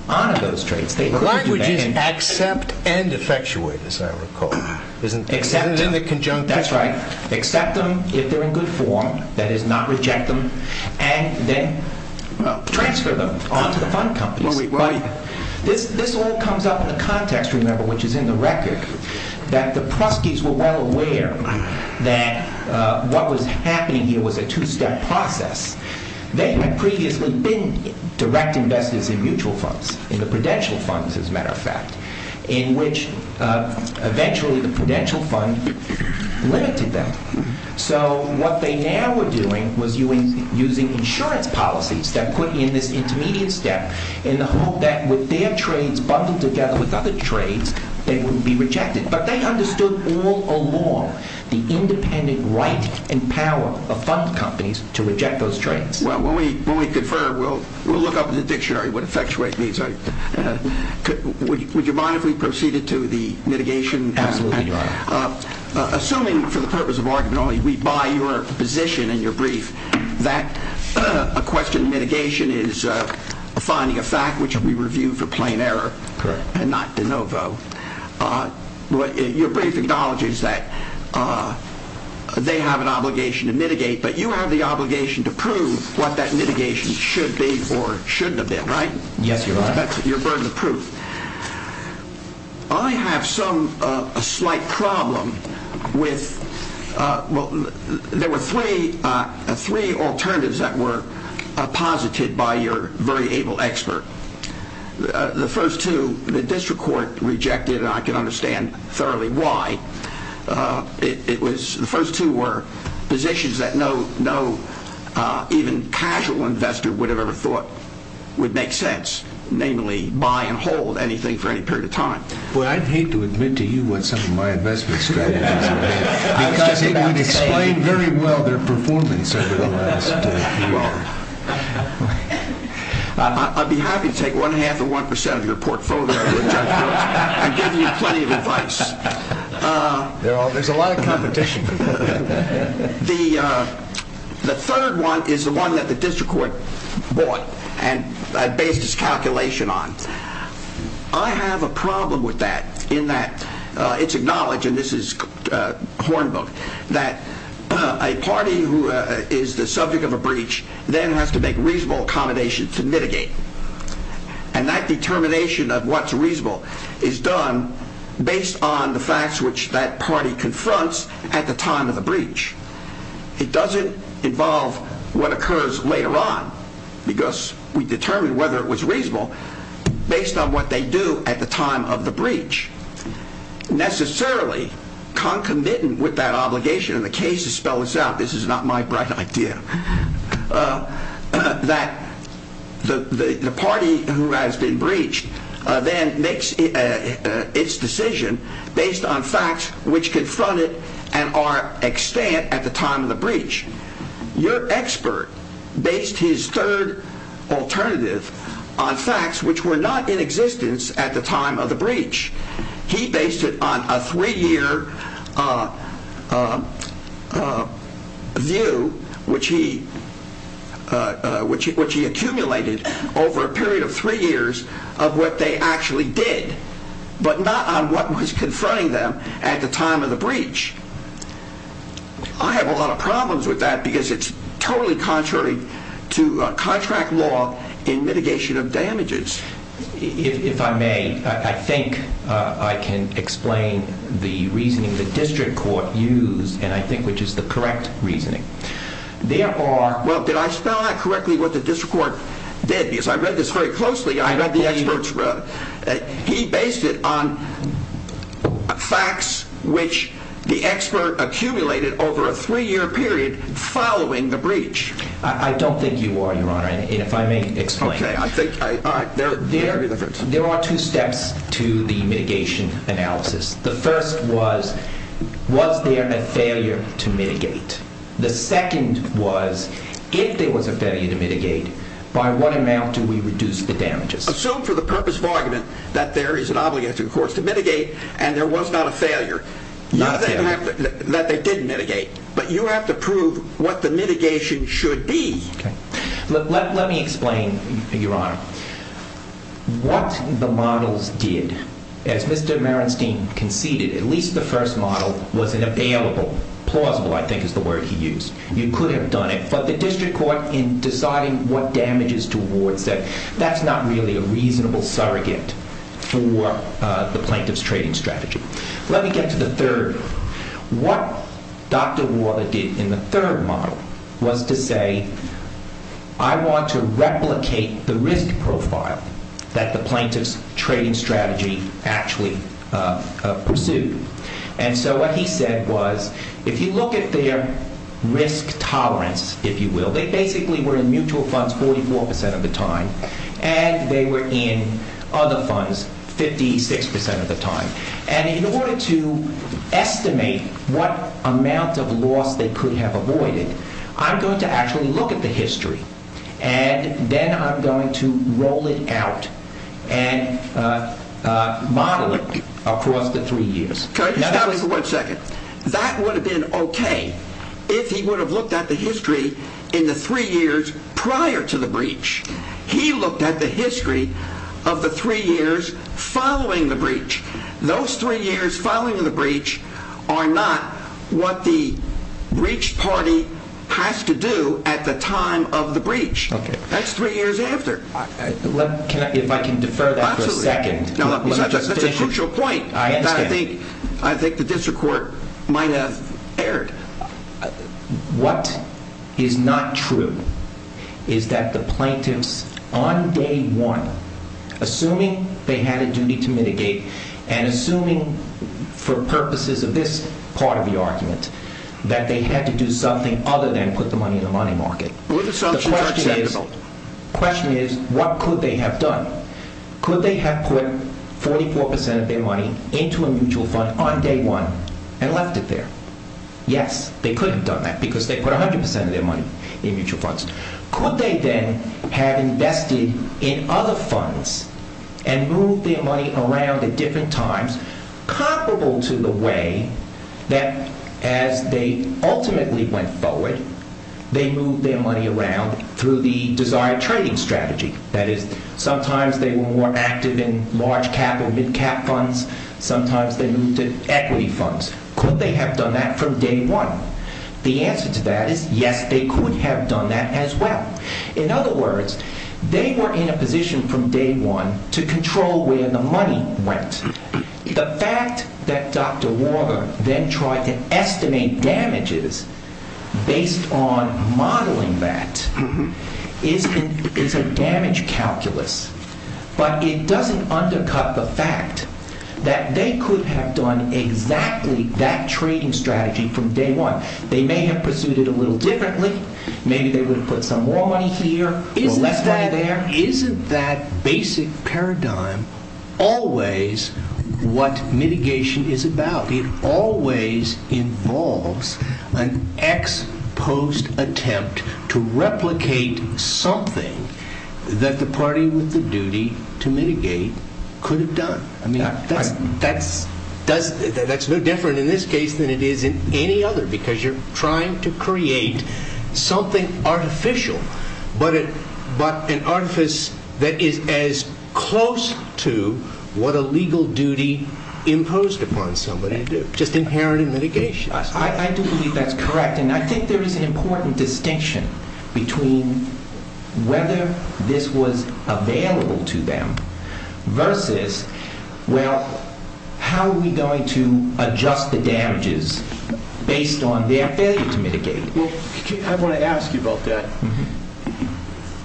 honor those trades. The language is accept and effectuate, as I recall. Isn't it in the conjuncture? That's right. Accept them if they're in good form, that is not reject them, and then transfer them on to the fund companies. This all comes up in the context, remember, which is in the record, that the Pruskis were well aware that what was happening here was a two-step process. They had previously been direct investors in mutual funds, in the prudential funds, as a matter of fact, in which eventually the prudential fund limited them. So what they now were doing was using insurance policies that put in this intermediate step in the hope that with their trades bundled together with other trades, they would be rejected. But they understood all along the independent right and power of fund companies to reject those trades. Well, when we confer, we'll look up in the dictionary what effectuate means. Would you mind if we proceeded to the mitigation aspect? Absolutely, Your Honor. Assuming, for the purpose of argument only, we buy your position in your brief that a question of mitigation is finding a fact which we review for plain error and not de novo, your brief acknowledges that they have an obligation to mitigate, but you have the obligation to prove what that mitigation should be or shouldn't have been, right? Yes, Your Honor. That's your burden of proof. I have some, a slight problem with, well, there were three alternatives that were posited by your very able expert. The first two, the district court rejected, and I can understand thoroughly why. It was, the first two were positions that no, no, even casual investor would have ever thought would make sense, namely buy and hold anything for any period of time. Well, I'd hate to admit to you what some of my investment strategies have been. I was just about to say. Because it would explain very well their performance over the last few years. I'd be happy to take one half of one percent of your portfolio, Judge Brooks. I'd give you plenty of advice. There's a lot of competition. The third one is the one that the district court bought and based its calculation on. I have a problem with that in that it's acknowledged, and this is Hornbook, that a party who is the subject of a breach then has to make reasonable accommodations to mitigate. And that determination of what's reasonable is done based on the facts which that party confronts at the time of the breach. It doesn't involve what occurs later on because we determine whether it was reasonable based on what they do at the time of the breach. Necessarily, concomitant with that obligation, and the case is spelled out, this is not my bright idea, that the party who has been breached then makes its decision based on facts which confront it and are extant at the time of the breach. Your expert based his third alternative on facts which were not in existence at the time of the breach. He based it on a three-year view which he accumulated over a period of three years of what they actually did, but not on what was confronting them at the time of the breach. I have a lot of problems with that because it's totally contrary to contract law in mitigation of damages. If I may, I think I can explain the reasoning the district court used, and I think which is the correct reasoning. Well, did I spell out correctly what the district court did? He based it on facts which the expert accumulated over a three-year period following the breach. I don't think you are, Your Honor, and if I may explain. There are two steps to the mitigation analysis. The first was, was there a failure to mitigate? The second was, if there was a failure to mitigate, by what amount do we reduce the damages? Assume for the purpose of argument that there is an obligation to the courts to mitigate and there was not a failure. Not a failure. That they didn't mitigate, but you have to prove what the mitigation should be. Let me explain, Your Honor. What the models did, as Mr. Merenstein conceded, at least the first model was an available, plausible I think is the word he used. You could have done it, but the district court in deciding what damages to award said, that's not really a reasonable surrogate for the plaintiff's trading strategy. Let me get to the third. What Dr. Warner did in the third model was to say, I want to replicate the risk profile that the plaintiff's trading strategy actually pursued. And so what he said was, if you look at their risk tolerance, if you will, they basically were in mutual funds 44% of the time and they were in other funds 56% of the time. And in order to estimate what amount of loss they could have avoided, I'm going to actually look at the history and then I'm going to roll it out and model it across the three years. Can I just stop you for one second? That would have been okay if he would have looked at the history in the three years prior to the breach. He looked at the history of the three years following the breach. Those three years following the breach are not what the breach party has to do at the time of the breach. That's three years after. If I can defer that for a second. That's a crucial point. I think the district court might have erred. What is not true is that the plaintiffs on day one, assuming they had a duty to mitigate and assuming for purposes of this part of the argument, that they had to do something other than put the money in the money market. The question is, what could they have done? Could they have put 44% of their money into a mutual fund on day one and left it there? Yes, they could have done that because they put 100% of their money in mutual funds. Could they then have invested in other funds and moved their money around at different times, comparable to the way that as they ultimately went forward, they moved their money around through the desired trading strategy. That is, sometimes they were more active in large cap or mid cap funds. Sometimes they moved to equity funds. Could they have done that from day one? The answer to that is yes, they could have done that as well. In other words, they were in a position from day one to control where the money went. The fact that Dr. Warner then tried to estimate damages based on modeling that is a damage calculus. But it doesn't undercut the fact that they could have done exactly that trading strategy from day one. They may have pursued it a little differently. Maybe they would have put some more money here or less money there. Isn't that basic paradigm always what mitigation is about? It always involves an ex-post attempt to replicate something that the party with the duty to mitigate could have done. That's no different in this case than it is in any other because you're trying to create something artificial, but an artifice that is as close to what a legal duty imposed upon somebody to do, just inherent in mitigation. I do believe that's correct. I think there is an important distinction between whether this was available to them versus how are we going to adjust the damages based on their failure to mitigate? I want to ask you about that.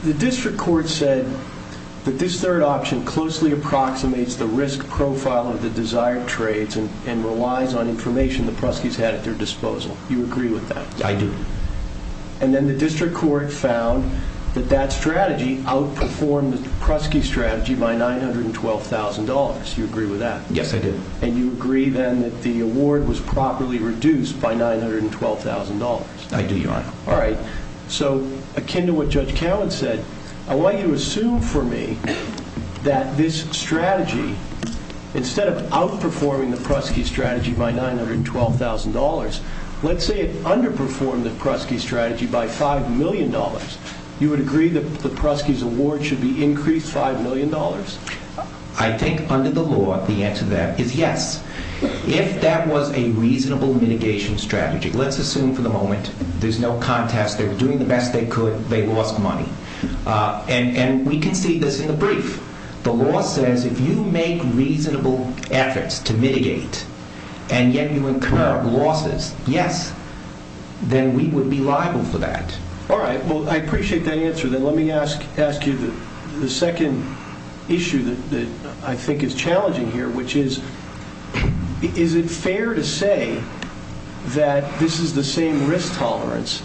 The district court said that this third option closely approximates the risk profile of the desired trades and relies on information the Pruskies had at their disposal. Do you agree with that? I do. Then the district court found that that strategy outperformed the Prusky strategy by $912,000. Do you agree with that? Yes, I do. You agree then that the award was properly reduced by $912,000? I do, Your Honor. Akin to what Judge Cowen said, I want you to assume for me that this strategy, instead of outperforming the Prusky strategy by $912,000, let's say it underperformed the Prusky strategy by $5 million. You would agree that the Pruskies' award should be increased $5 million? I think under the law, the answer to that is yes. If that was a reasonable mitigation strategy, let's assume for the moment, there's no contest, they're doing the best they could, they lost money. And we can see this in the brief. The law says if you make reasonable efforts to mitigate, and yet you incur losses, yes, then we would be liable for that. All right. Well, I appreciate that answer. Then let me ask you the second issue that I think is challenging here, which is, is it fair to say that this is the same risk tolerance?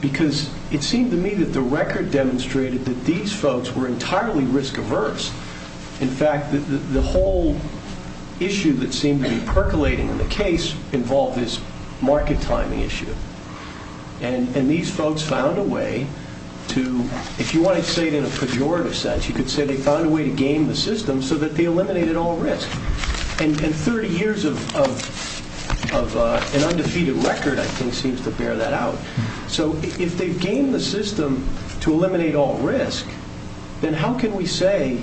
Because it seemed to me that the record demonstrated that these folks were entirely risk-averse. In fact, the whole issue that seemed to be percolating in the case involved this market timing issue. And these folks found a way to, if you want to say it in a pejorative sense, you could say they found a way to game the system so that they eliminated all risk. And 30 years of an undefeated record, I think, seems to bear that out. So if they've gamed the system to eliminate all risk, then how can we say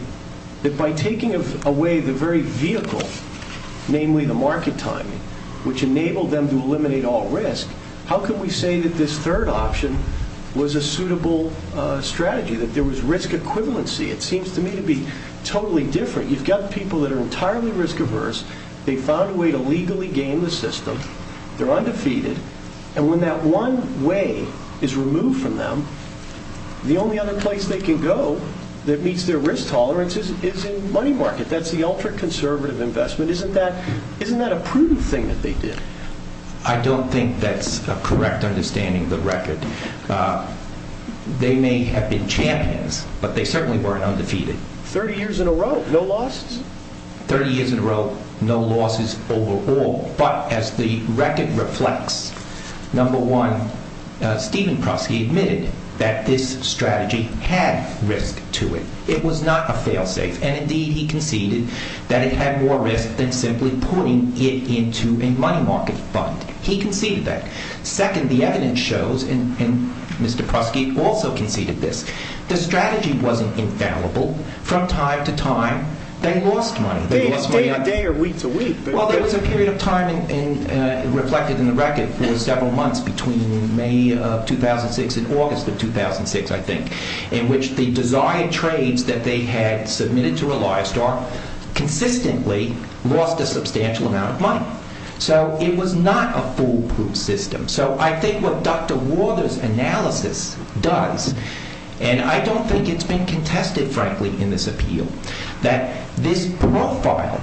that by taking away the very vehicle, namely the market timing, which enabled them to eliminate all risk, how can we say that this third option was a suitable strategy, that there was risk equivalency? It seems to me to be totally different. You've got people that are entirely risk-averse. They found a way to legally game the system. They're undefeated. And when that one way is removed from them, the only other place they can go that meets their risk tolerance is in the money market. That's the ultra-conservative investment. Isn't that a prudent thing that they did? I don't think that's a correct understanding of the record. They may have been champions, but they certainly weren't undefeated. 30 years in a row, no losses? 30 years in a row, no losses overall. But as the record reflects, number one, Stephen Prusky admitted that this strategy had risk to it. It was not a fail-safe. And indeed, he conceded that it had more risk than simply putting it into a money market fund. He conceded that. Second, the evidence shows, and Mr. Prusky also conceded this, the strategy wasn't infallible. From time to time, they lost money. Day to day or week to week? There was a time, reflected in the record, for several months between May of 2006 and August of 2006, I think, in which the desired trades that they had submitted to ReliSTAR consistently lost a substantial amount of money. So it was not a foolproof system. So I think what Dr. Warther's analysis does, and I don't think it's been contested, frankly, in this appeal, that this profile,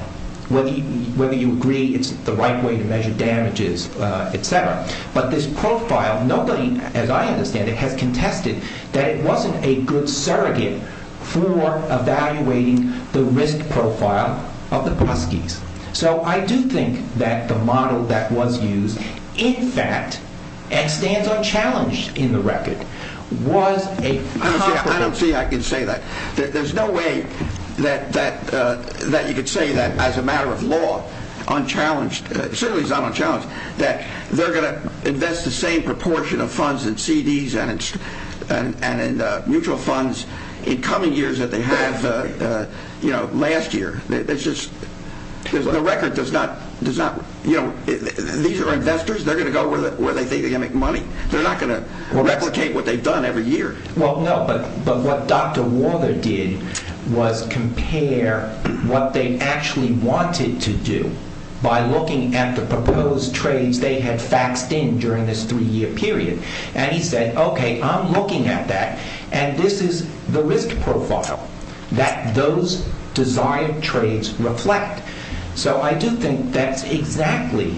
whether you agree it's the right way to measure damages, etc., but this profile, nobody, as I understand it, has contested that it wasn't a good surrogate for evaluating the risk profile of the Pruskys. So I do think that the model that was used, in fact, and stands unchallenged in the record, was a... I don't see how I can say that. There's no way that you could say that as a matter of law, unchallenged, certainly it's not unchallenged, that they're going to invest the same proportion of funds in CDs and in mutual funds in coming years that they had last year. It's just... The record does not... These are investors. They're going to go where they think they're going to make money. They're not going to replicate what they've done every year. Well, no, but what Dr. Walther did was compare what they actually wanted to do by looking at the proposed trades they had faxed in during this three-year period. And he said, okay, I'm looking at that, and this is the risk profile that those desired trades reflect. So I do think that's exactly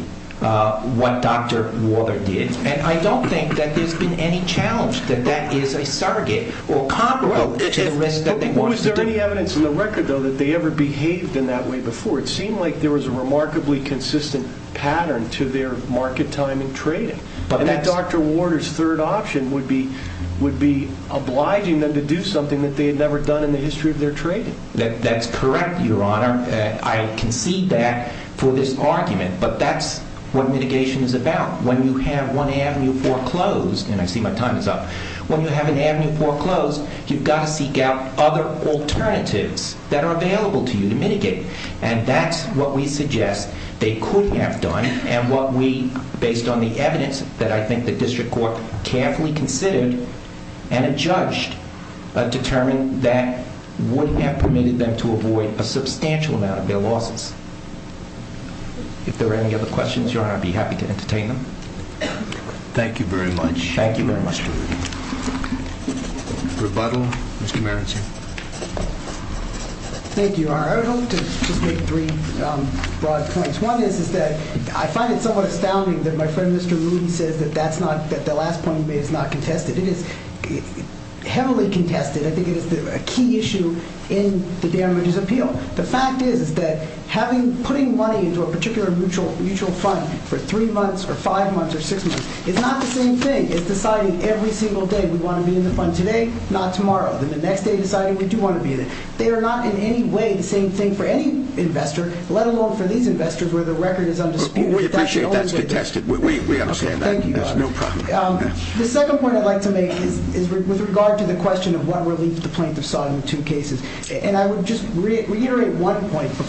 what Dr. Walther did. And I don't think that there's been any challenge, that that is a surrogate or comparable to the risk that they wanted to do. Was there any evidence in the record, though, that they ever behaved in that way before? It seemed like there was a remarkably consistent pattern to their market timing trading. And that Dr. Walther's third option would be obliging them to do something that they had never done in the history of their trading. That's correct, Your Honor. I concede that for this argument. But that's what mitigation is about. When you have one avenue foreclosed, and I see my time is up, when you have an avenue foreclosed, you've got to seek out other alternatives that are available to you to mitigate. And that's what we suggest they could have done, and what we, based on the evidence that I think the district court carefully considered and adjudged, determined that would have permitted them to avoid a substantial amount of their losses. If there are any other questions, Your Honor, I'd be happy to entertain them. Thank you very much, Mr. Rudy. Thank you very much. Rebuttal, Mr. Maranzi. Thank you, Your Honor. I would like to just make three broad points. One is that I find it somewhat astounding that my friend Mr. Rudy says that the last point he made is not contested. It is heavily contested. I think it is a key issue in the damages appeal. The fact is that putting money into a particular mutual fund for three months or five months or six months is not the same thing as deciding every single day we want to be in the fund today, not tomorrow. Then the next day deciding we do want to be in it. They are not in any way the same thing for any investor, let alone for these investors where the record is undisputed. We appreciate that's contested. We understand that. There's no problem. The second point I'd like to make is with regard to the question of what relief the plaintiff sought in the two cases. And I would just reiterate one point that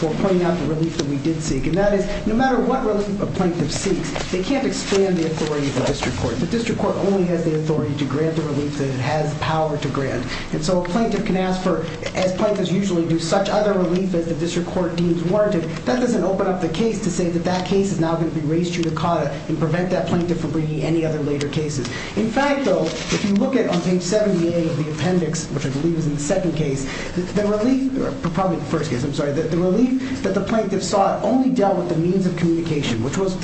the plaintiff seeks. They can't expand the authority of the district court. The district court only has the authority to grant the relief that it has the power to grant. And so a plaintiff can ask for, as plaintiffs usually do, such other relief as the district court deems warranted. That doesn't open up the case to say that that case is now going to be raised to the caught and prevent that plaintiff from bringing any other later cases. In fact, though, if you look at on page 78 of the appendix, which I believe is in the second case, the relief, probably the first case, I'm sorry, the relief that the plaintiff sought was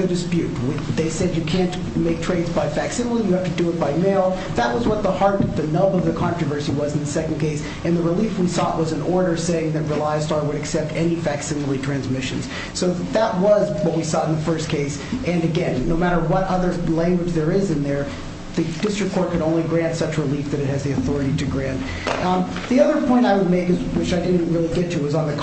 in dispute. They said you can't make trades by facsimile. You have to do it by mail. That was what the heart, the nub of the controversy was in the second case. And the relief we sought was an order saying that ReliStar would accept any facsimile transmissions. So that was what we sought in the first case. And again, no matter what other language there is in there, the district court can only grant such relief that it has the authority to grant. The other point I would make, which I didn't really get to, but I urge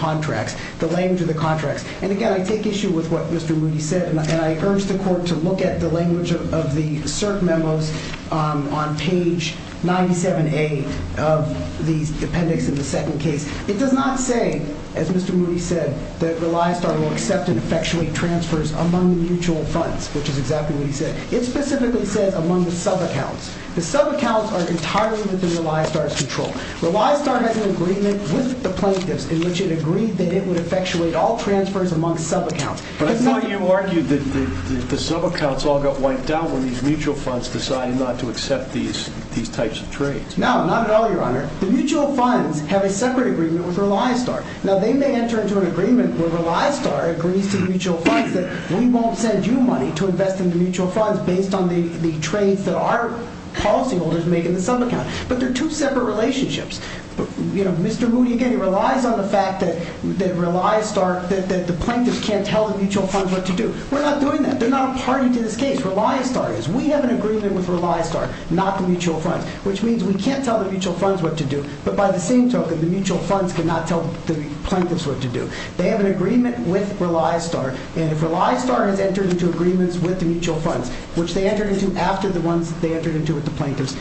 the court to look at the language of the cert memos on page 97A of the appendix in the second case. It does not say, as Mr. Moody said, that ReliStar will accept and effectuate transfers among the mutual funds, which is exactly what he said. It specifically says among the subaccounts. The subaccounts are entirely within ReliStar's control. ReliStar has an agreement with the plaintiffs in which it agreed that it would effectuate all transfers among subaccounts. The subaccounts all got wiped out when these mutual funds decided not to accept these types of trades. No, not at all, Your Honor. The mutual funds have a separate agreement with ReliStar. Now, they may enter into an agreement where ReliStar agrees to mutual funds that we won't send you money to invest in the mutual funds based on the trades that our policyholders make in the subaccount. But they're two separate relationships. Mr. Moody, again, relies on the fact that the plaintiffs can't tell the mutual funds what to do. They're not a party to this case. ReliStar is. We have an agreement with ReliStar, not the mutual funds, which means we can't tell the mutual funds what to do, but by the same token, the mutual funds cannot tell the plaintiffs what to do. They have an agreement with ReliStar, and if ReliStar has entered into agreements with the mutual funds, which they entered into after the ones they entered into with the plaintiffs, they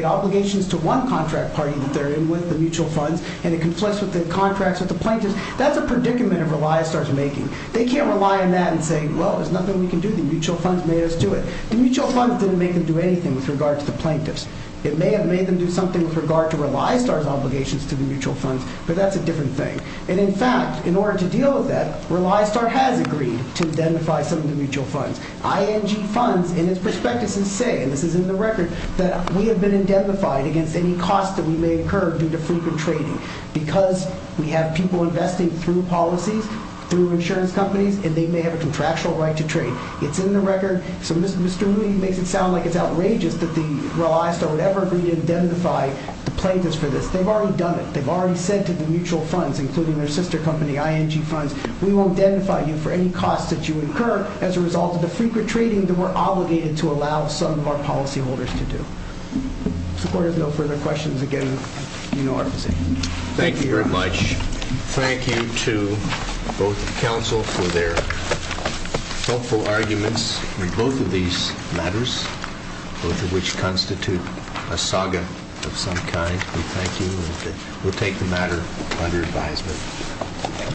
have obligations to one contract party that they're in with, the mutual funds, and it conflicts with the contracts with the plaintiffs, that's a predicament of ReliStar's making. They can't rely on that and say, well, there's nothing we can do, the mutual funds made us do it. The mutual funds didn't make them do anything with regard to the plaintiffs. It may have made them do something with regard to ReliStar's obligations to the mutual funds, but that's a different thing. And in fact, in order to deal with that, we have to identify it against any costs that we may incur due to frequent trading because we have people investing through policies, through insurance companies, and they may have a contractual right to trade. It's in the record, so Mr. Rui makes it sound like it's outrageous that the ReliStar would ever agree to identify the plaintiffs for this. They've already done it. They've already said to the mutual funds, including their sister company, ING Funds, we won't identify you for any costs that you incur as a result of the mutual funds. So with no further questions, again, you know our position. Thank you very much. Thank you to both the Council for their thoughtful arguments in both of these matters, both of which constitute a saga of some kind. We thank you, and we'll take the matter under advisement.